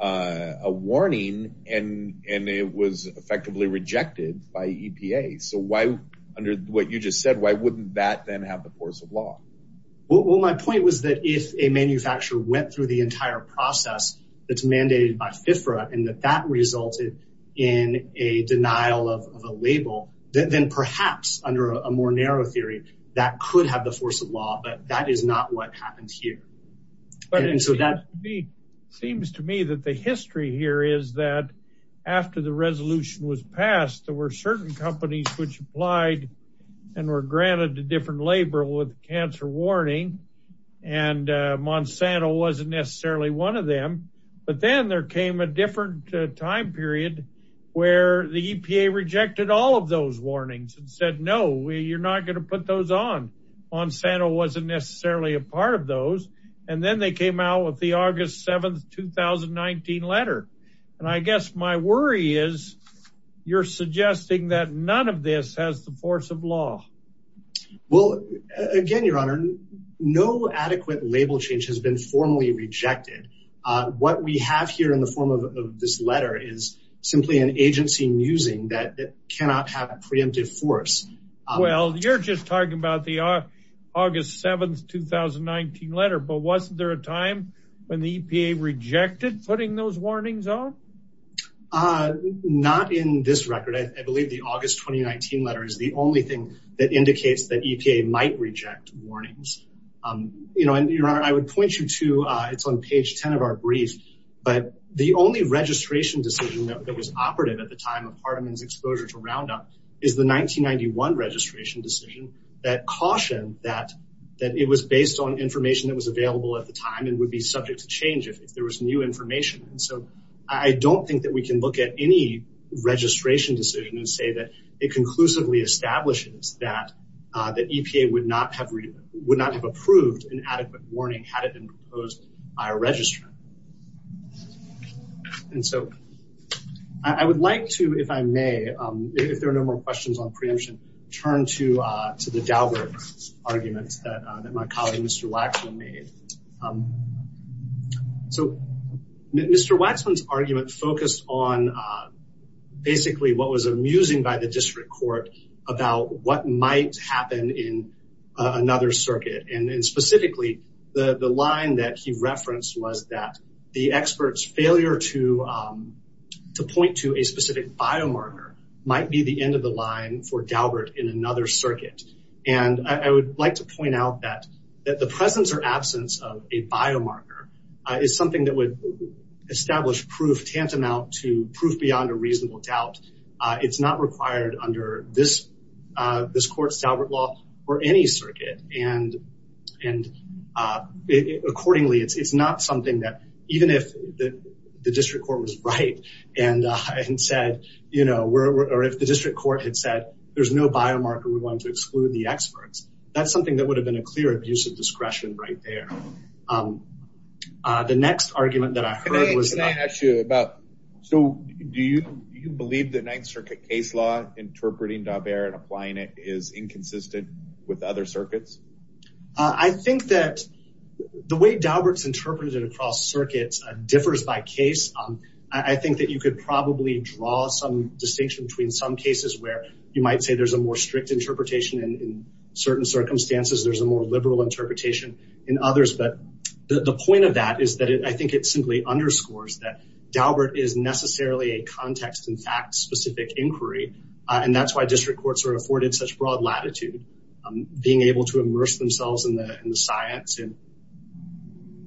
uh a warning and and it was effectively rejected by epa so why under what you just said why wouldn't that then have the force of law well my point was that if a manufacturer went through the entire process that's mandated by FIFRA and that that resulted in a denial of a label then perhaps under a more narrow theory that could have the force of law but that is not what happened here but it has to be seems to me that the history here is that after the resolution was passed there were certain companies which applied and were granted a different label with cancer warning and uh monsanto wasn't necessarily one of them but then there came a different time period where the epa rejected all of those warnings and said no you're not going to put those on monsanto wasn't necessarily a part of those and then they came out with the august 7th 2019 letter and i guess my worry is you're suggesting that none of this has the force of law well again your honor no adequate label change has been formally rejected uh what we have here in the form of this letter is simply an agency musing that cannot have a preemptive force well you're just talking about the august 7th 2019 letter but wasn't there a time when the epa rejected putting those warnings on uh not in this record i believe the august 2019 letter is the only thing that indicates that epa might reject warnings um you know and your honor i would point you to uh it's on page 10 of our brief but the only registration decision that was operative at the time of hardeman's exposure to roundup is the 1991 registration decision that cautioned that that it was based on information that was available at the time and would be subject to change if there was new information and so i don't think that we can look at any registration decision and say that it conclusively establishes that uh that epa would not have would not have approved an adequate warning had it been proposed by a registrar and so i i would like to if i may um if there are no more questions on preemption turn to uh to the dalbert argument that my colleague mr waxman made so mr waxman's argument focused on uh basically what was amusing by the district court about what might happen in another circuit and specifically the the line that he referenced was that the experts failure to um to point to a specific biomarker might be the end of the line for dalbert in another circuit and i would like to point out that that the presence or absence of a biomarker is something that would establish proof tantamount to proof beyond a reasonable doubt uh it's not required under this uh this court's albert law for any circuit and and uh accordingly it's not something that even if the district court was right and uh and said you know we're or if the district court had said there's no biomarker we want to exclude the experts that's something that would have been a clear abuse of discretion right there um uh the next argument that i heard was can i ask you about so do you you believe the next circuit case law interpreting dot there and applying it is inconsistent with other circuits i think that the way dalbert's interpreted across circuits differs by case um i think that you could probably draw some distinction between some cases where you might say there's a more strict interpretation in certain circumstances there's a more liberal interpretation in others but the point of that is that i think it simply underscores that dalbert is necessarily a context in fact specific inquiry and that's why district courts are afforded such broad latitude being able to immerse themselves in the in the science and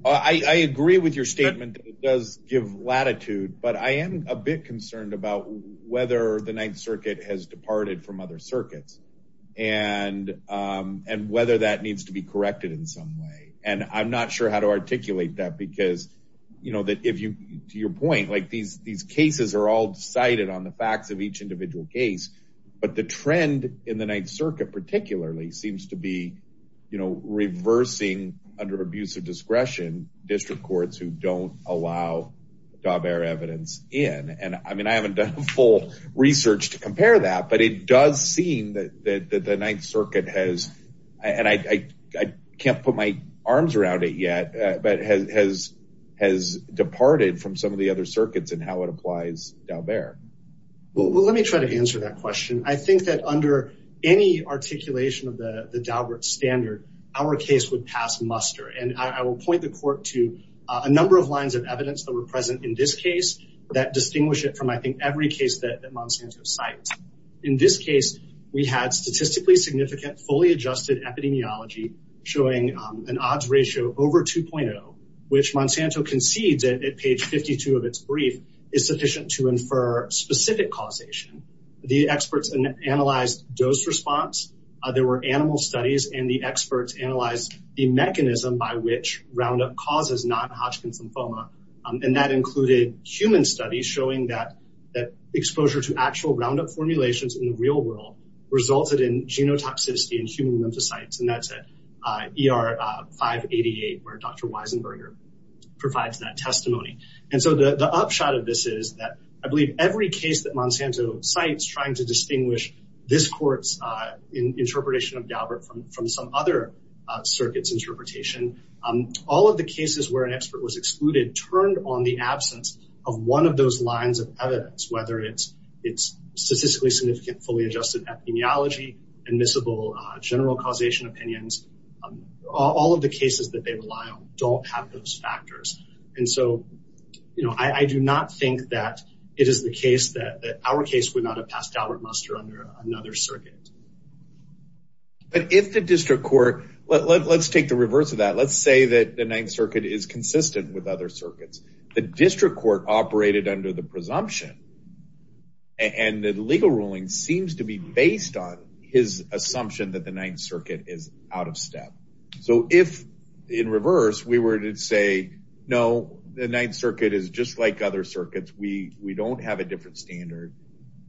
i i agree with your statement that it does give latitude but i am a bit concerned about whether the ninth circuit has departed from other circuits and um and whether that needs to be corrected in some way and i'm not sure how to articulate that because you know that if you to your point like these these cases are all cited on the facts of each individual case but the trend in the ninth circuit particularly seems to be you know reversing under abuse of discretion district courts who don't allow dalbert evidence in and i mean i haven't done full research to compare that but it does seem that that the ninth circuit has and i i can't put my arms around it yet but has has departed from some of the other circuits and how it applies dalbert well let me try to answer that question i think that under any articulation of the the dalbert standard our case would pass muster and i will point the court to a number of lines of evidence that were present in this case that distinguish it from i think every case that monsanto cites in this case we had statistically significant fully adjusted epidemiology showing an odds ratio over 2.0 which monsanto concedes at page 52 of its brief is sufficient to infer specific causation the experts analyzed dose response there were animal studies and the experts analyzed the mechanism by which roundup causes non-hodgkin lymphoma and that included human studies showing that that exposure to actual roundup formulations in the that's at er 588 where dr weisenberger provides that testimony and so the the upshot of this is that i believe every case that monsanto cites trying to distinguish this court's uh interpretation of dalbert from some other circuits interpretation um all of the cases where an expert was excluded turned on the absence of one of those lines of evidence whether it's it's statistically fully adjusted epidemiology admissible general causation opinions all of the cases that they rely on don't have those factors and so you know i i do not think that it is the case that that our case would not have passed albert muster under another circuit but if the district court let's take the reverse of that let's say that the ninth circuit is consistent with other circuits the district court operated under the presumption and the legal ruling seems to be based on his assumption that the ninth circuit is out of step so if in reverse we were to say no the ninth circuit is just like other circuits we we don't have a different standard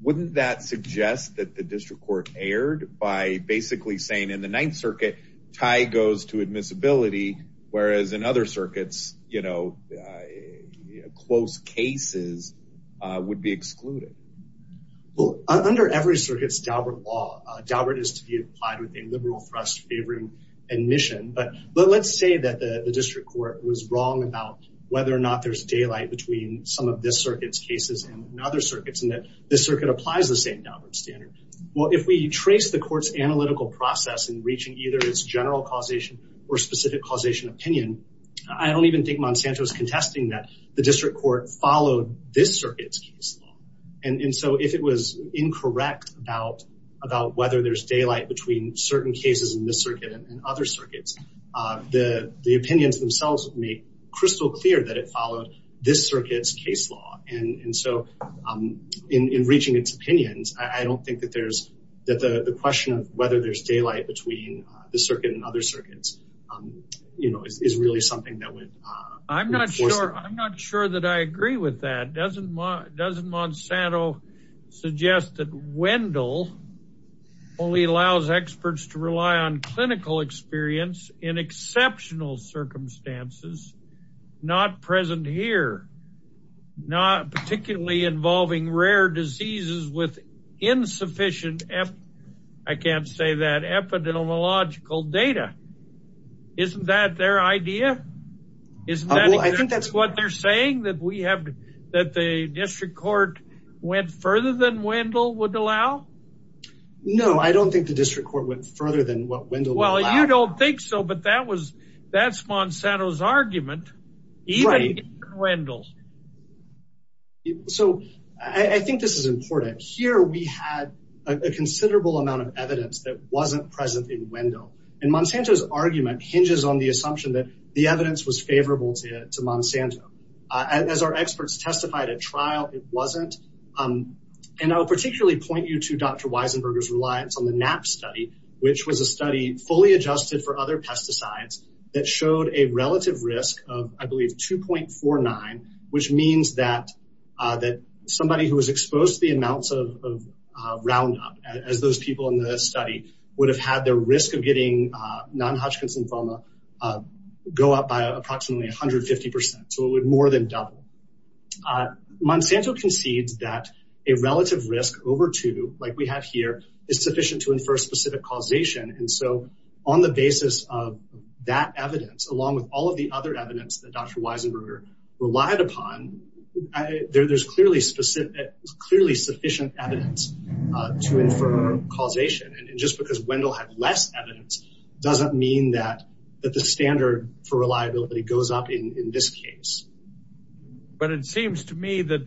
wouldn't that suggest that the district court erred by basically saying in the ninth circuit tie goes to admissibility whereas in other circuits you know close cases would be excluded well under every circuit's dalbert law dalbert is to be applied with a liberal trust favoring admission but but let's say that the district court was wrong about whether or not there's daylight between some of this circuit's cases and other circuits and that this circuit applies the same standard well if we trace the court's analytical process and reaching either its general causation or specific causation opinion i don't even think monsanto's contesting that the district court followed this circuit's case and and so if it was incorrect about about whether there's daylight between certain cases in the circuit and other circuits uh the the opinions themselves make crystal clear that it followed this circuit's case law and and so um in in reaching its opinions i don't think that there's that the the question of whether there's daylight between the circuit and other circuits um you know is really something that would uh i'm not sure i'm not sure that i agree with that doesn't doesn't monsanto suggest that wendell only allows experts to rely on clinical experience in exceptional circumstances not present here not particularly involving rare diseases with insufficient f i can't say that epidemiological data isn't that their idea isn't that i think that's what they're saying that we have that the district court went further than wendell would allow no i don't think the district court went further than what wendell well you don't think so but that was that's monsanto's argument wendell so i think this is important here we had a considerable amount of evidence that wasn't present in wendell and monsanto's argument hinges on the assumption that the evidence was favorable to to monsanto as our experts testified at trial it wasn't um and i'll particularly point you to dr weisenberger's reliance on the knaps study which was a study fully adjusted for other pesticides that showed a relative risk of i believe 2.49 which means that uh that somebody who was exposed to the amounts of uh roundup as those people in the study would have had their risk of getting uh non-hodgkin's lymphoma uh go up by approximately 150 so it would more than double uh monsanto concedes that a relative risk over two like we have here is sufficient to infer specific causation and so on the basis of that evidence along with all of the other evidence that dr weisenberger relied upon there's clearly specific clearly sufficient evidence uh to infer causation and just because wendell has less evidence doesn't mean that that the standard for reliability goes up in in this case but it seems to me that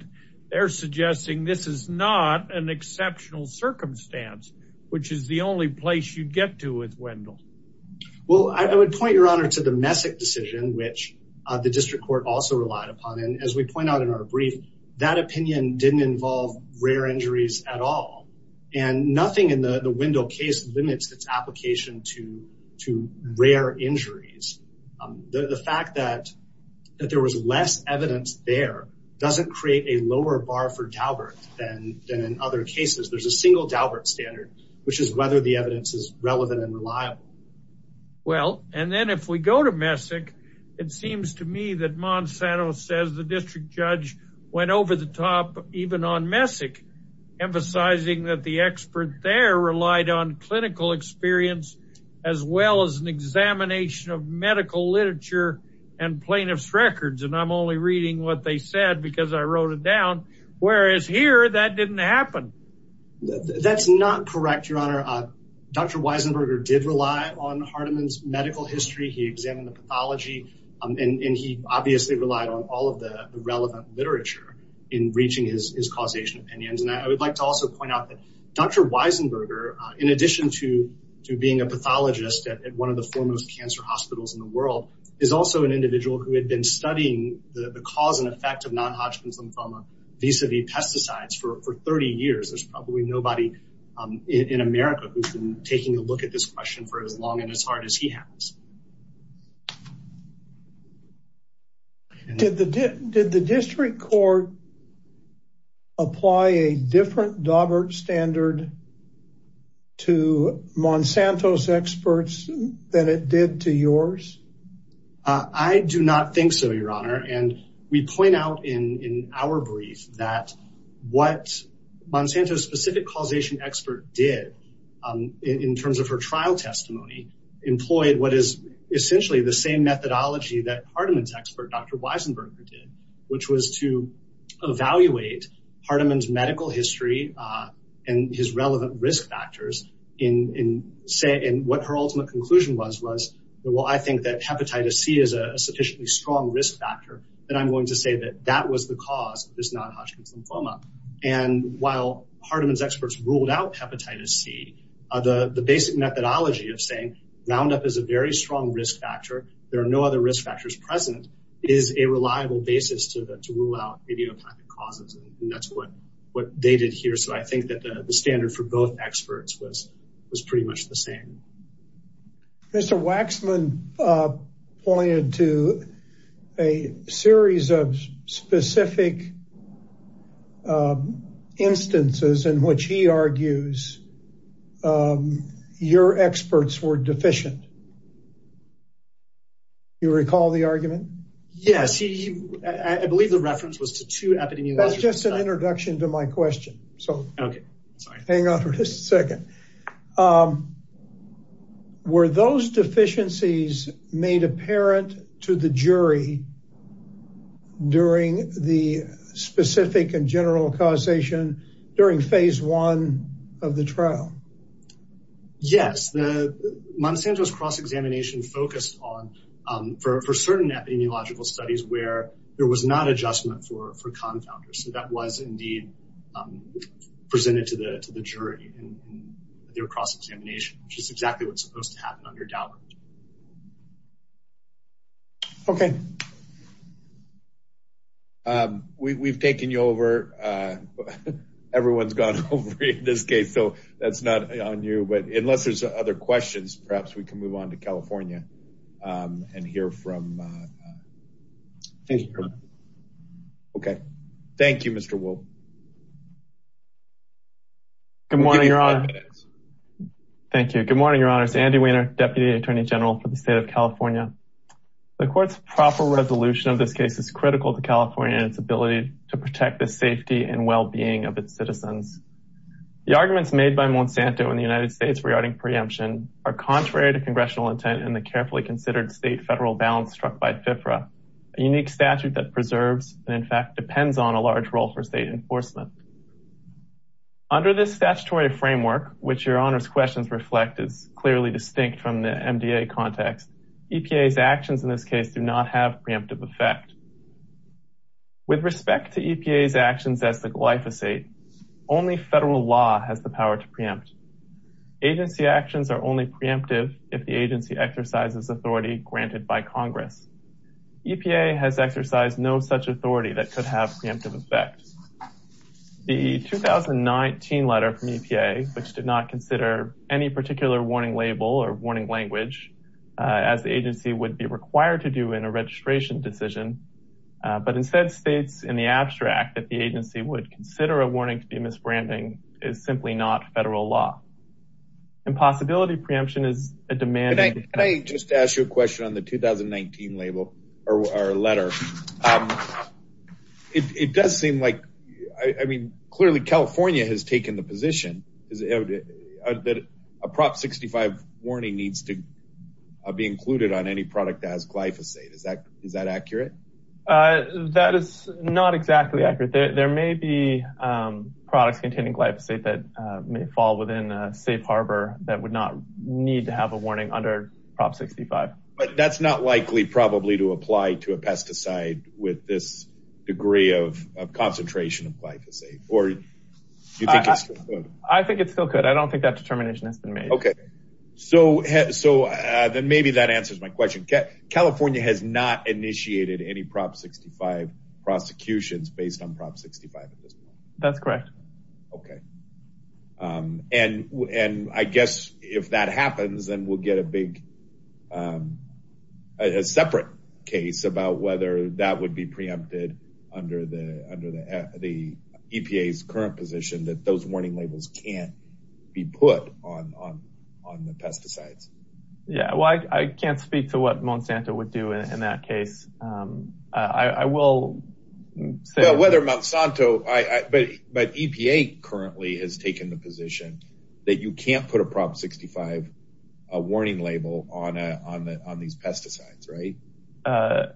they're suggesting this is not an exceptional circumstance which is the only place you get to with wendell well i would point your honor to the messick decision which the district court also relied upon and as we point out in our brief that opinion didn't involve rare injuries at all and nothing in the the window case limits its application to to rare injuries the fact that that there was less evidence there doesn't create a lower bar than than in other cases there's a single dalbert standard which is whether the evidence is relevant and reliable well and then if we go to messick it seems to me that monsanto says the district judge went over the top even on messick emphasizing that the expert there relied on clinical experience as well as an examination of medical literature and plaintiff's records and i'm only reading what they said because i wrote it down whereas here that didn't happen that's not correct your honor uh dr weisenberger did rely on hardeman's medical history he examined the pathology um and he obviously relied on all of the relevant literature in reaching his causation opinions and i would like to also point out that dr weisenberger in addition to to being a pathologist at one of the foremost cancer hospitals in the world is also an individual who had been studying the cause and effect of non-hodgkin's lymphoma vis-a-vis pesticides for for 30 years there's probably nobody in america who's been taking a look at this question for as long and as hard as he has did the did the district court apply a different dalbert standard to monsanto's experts that it did to yours i do not think so your honor and we point out in in our brief that what monsanto's specific causation expert did um in terms of her trial testimony employed what is essentially the same methodology that hardeman's expert dr weisenberger which was to evaluate hardeman's medical history uh and his relevant risk factors in in say in what her ultimate conclusion was was well i think that hepatitis c is a sufficiently strong risk factor that i'm going to say that that was the cause this non-hodgkin's lymphoma and while hardeman's experts ruled out hepatitis c the the basic methodology of saying wound up is a very strong risk factor there are no other risk factors present is a reliable basis to to rule out idiopathic causes and that's what what they did here so i think that the standard for both experts was was pretty much the same mr waxman uh pointed to a series of specific instances in which he argues um your experts were deficient you recall the argument yes he i believe the reference was to two happening that's just an introduction to my question so okay hang on for just a second um were those deficiencies made apparent to the jury during the specific and general causation during phase one of the trial yes the montana's cross-examination focused on um for certain epidemiological studies where there was not adjustment for for compounders so that was indeed presented to the to the jury in your cross-examination which is exactly what's supposed to happen under doubt okay um we've taken you over uh everyone's gone over in this case so that's not on you but unless there's other questions perhaps we can move on to california um and hear from uh okay thank you mr wool good morning your honor thank you good morning your honor it's andy wiener deputy attorney general for the state of california the court's proper resolution of this case is critical to its ability to protect the safety and well-being of its citizens the arguments made by monsanto in the united states regarding preemption are contrary to congressional intent in the carefully considered state federal balance struck by fifra a unique statute that preserves and in fact depends on a large role for state enforcement under this statutory framework which your honor's questions reflect is clearly distinct from the mda context epa's actions in this case do not have preemptive effect with respect to epa's actions at the glyphosate only federal law has the power to preempt agency actions are only preemptive if the agency exercises authority granted by congress epa has exercised no such authority that could have preemptive effect the 2019 letter from epa which did not consider any particular warning label or warning language as the agency would be required to do in a registration decision but instead states in the abstract that the agency would consider a warning to be misbranding is simply not federal law and possibility preemption is a demand can i just ask you a question on the 2019 label or letter um it does seem like i mean clearly california has taken the position that a prop 65 warning needs to be included on any product that has glyphosate is that is that accurate uh that is not exactly accurate there may be um products containing glyphosate that may fall within a safe harbor that would not need to have a warning under prop 65 but that's not likely probably to apply to a pesticide with this degree of of concentration of glyphosate or i think it's still good i don't have determination okay so so uh then maybe that answers my question california has not initiated any prop 65 prosecutions based on prop 65 that's correct okay um and and i guess if that happens then we'll get a big um a separate case about whether that would be preempted under the under the epa's current position that those warning labels can't be put on on on the pesticide yeah well i i can't speak to what monsanto would do in that case um i i will whether monsanto i but but epa currently has taken the position that you can't put a prop 65 a warning label on a on the on these pesticides right uh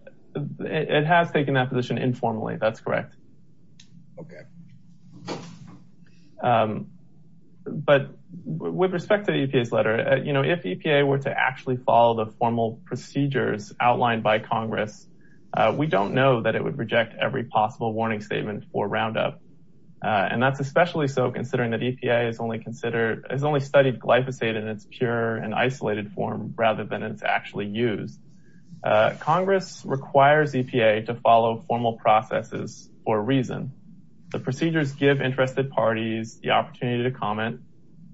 it has taken that position informally that's correct okay um but with respect to the case letter you know if epa were to actually follow the formal procedures outlined by congress we don't know that it would reject every possible warning statement for roundup and that's especially so considering that epa is only considered has only studied glyphosate in its pure and isolated form rather than it's actually used congress requires epa to follow formal processes for a reason the procedures give interested parties the opportunity to comment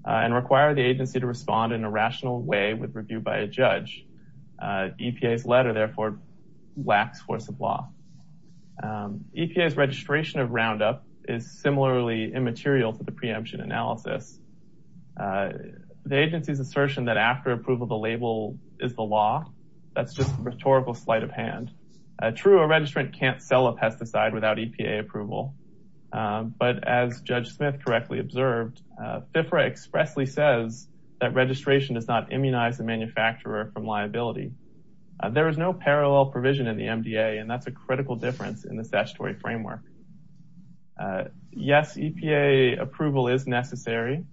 and require the agency to respond in a rational way with review by a judge epa's letter therefore lacks force of law epa's registration of roundup is similarly immaterial to the preemption analysis the agency's assertion that after approval the label is the law that's just a rhetorical sleight of hand a true a registrant can't sell a pesticide without epa approval but as judge smith correctly observed uh sifra expressly says that registration does not immunize the manufacturer from liability there is no parallel provision in the mda and that's a critical difference in the statutory framework yes epa approval is necessary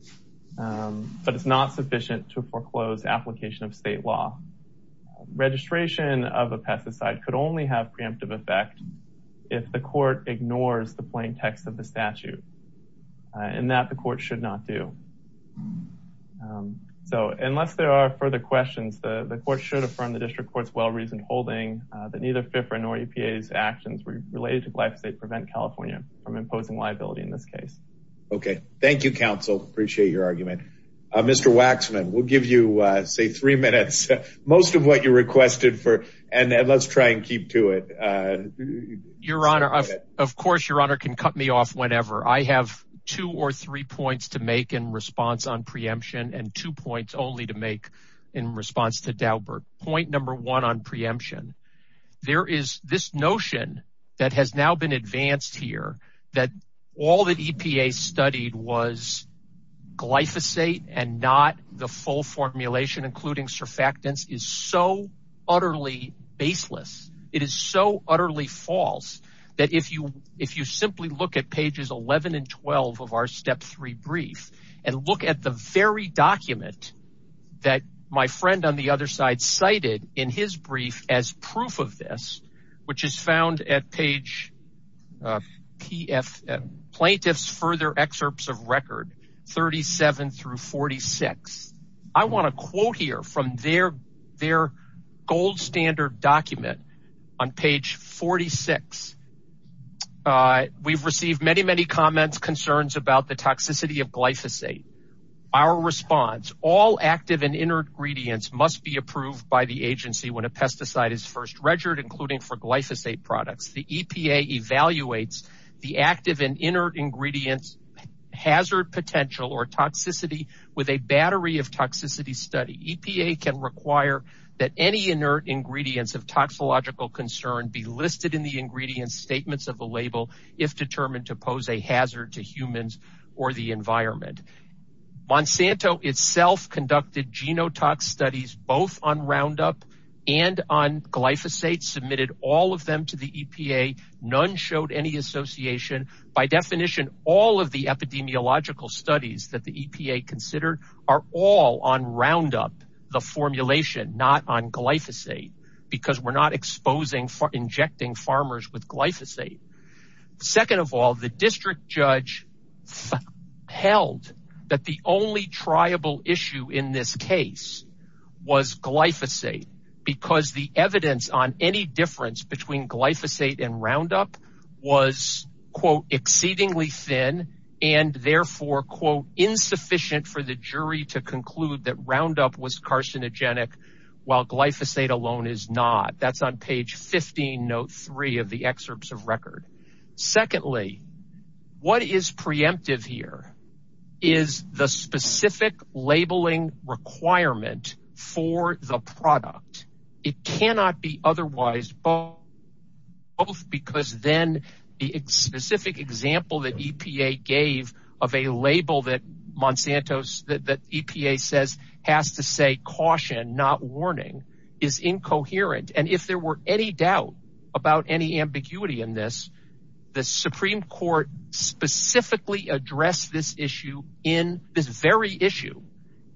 um but it's not sufficient to foreclose application of state law registration of a pesticide could only have preemptive effect if the court ignores the plain text of the statute and that the court should not do so unless there are further questions the court should affirm the district court's well-reasoned holding that neither different or epa's actions related to black state prevent california from your argument uh mr waxman we'll give you uh say three minutes most of what you requested for and let's try and keep to it uh your honor of course your honor can cut me off whenever i have two or three points to make in response on preemption and two points only to make in response to dalbert point number one on preemption there is this notion that has now been advanced here that all the epa studied was glyphosate and not the full formulation including surfactants is so utterly baseless it is so utterly false that if you if you simply look at pages 11 and 12 of our step three brief and look at the very document that my friend on the pf plaintiffs further excerpts of record 37 through 46 i want to quote here from their their gold standard document on page 46 uh we've received many many comments concerns about the toxicity of glyphosate our response all active and inner ingredients must be approved by the agency when a pesticide is first registered including for glyphosate products the epa evaluates the active and inner ingredients hazard potential or toxicity with a battery of toxicity study epa can require that any inert ingredients of toxicological concern be listed in the ingredient statements of the label if determined to pose a hazard to humans or the environment monsanto itself conducted genotox studies both on roundup and on glyphosate submitted all of them to the epa none showed any association by definition all of the epidemiological studies that the epa considered are all on roundup the formulation not on glyphosate because we're not exposing for injecting farmers with glyphosate second of all the district judge held that the only triable issue in this case was glyphosate because the evidence on any difference between glyphosate and roundup was quote exceedingly thin and therefore quote insufficient for the jury to conclude that roundup was carcinogenic while glyphosate alone is not that's on page 15 note 3 of the excerpts of record secondly what is preemptive here is the specific labeling requirement for the product it cannot be otherwise both because then the specific example that epa gave of a label that monsanto's that epa says has to say caution not warning is incoherent and if there were any doubt about any ambiguity in this the supreme court specifically addressed this issue in this very issue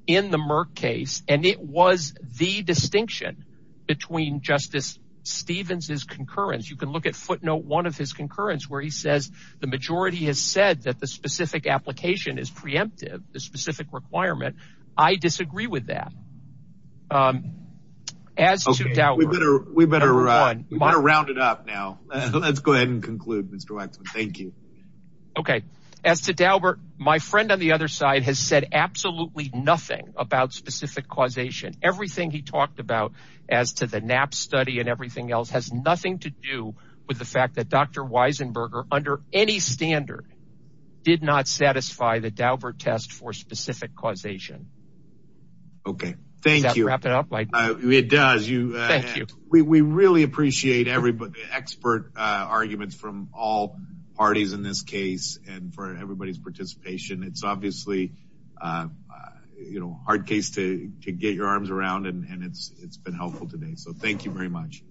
in the murk case and it was the distinction between justice stevens's concurrence you can look at footnote one of his concurrence where he says the majority has said that the specific application is preemptive the specific requirement i disagree with that um as we better we better run around it up now let's go ahead and conclude mr wexler thank you okay as to daubert my friend on the other side has said absolutely nothing about specific causation everything he talked about as to the knaps study and everything else has nothing to do with the fact that dr weisenberger under any standard did not satisfy the daubert test for specific causation okay thank you wrap expert uh arguments from all parties in this case and for everybody's participation it's obviously you know hard case to to get your arms around and it's it's been helpful today so thank you very much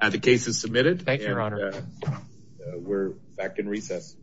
and the case is submitted thanks your honor we're back in recess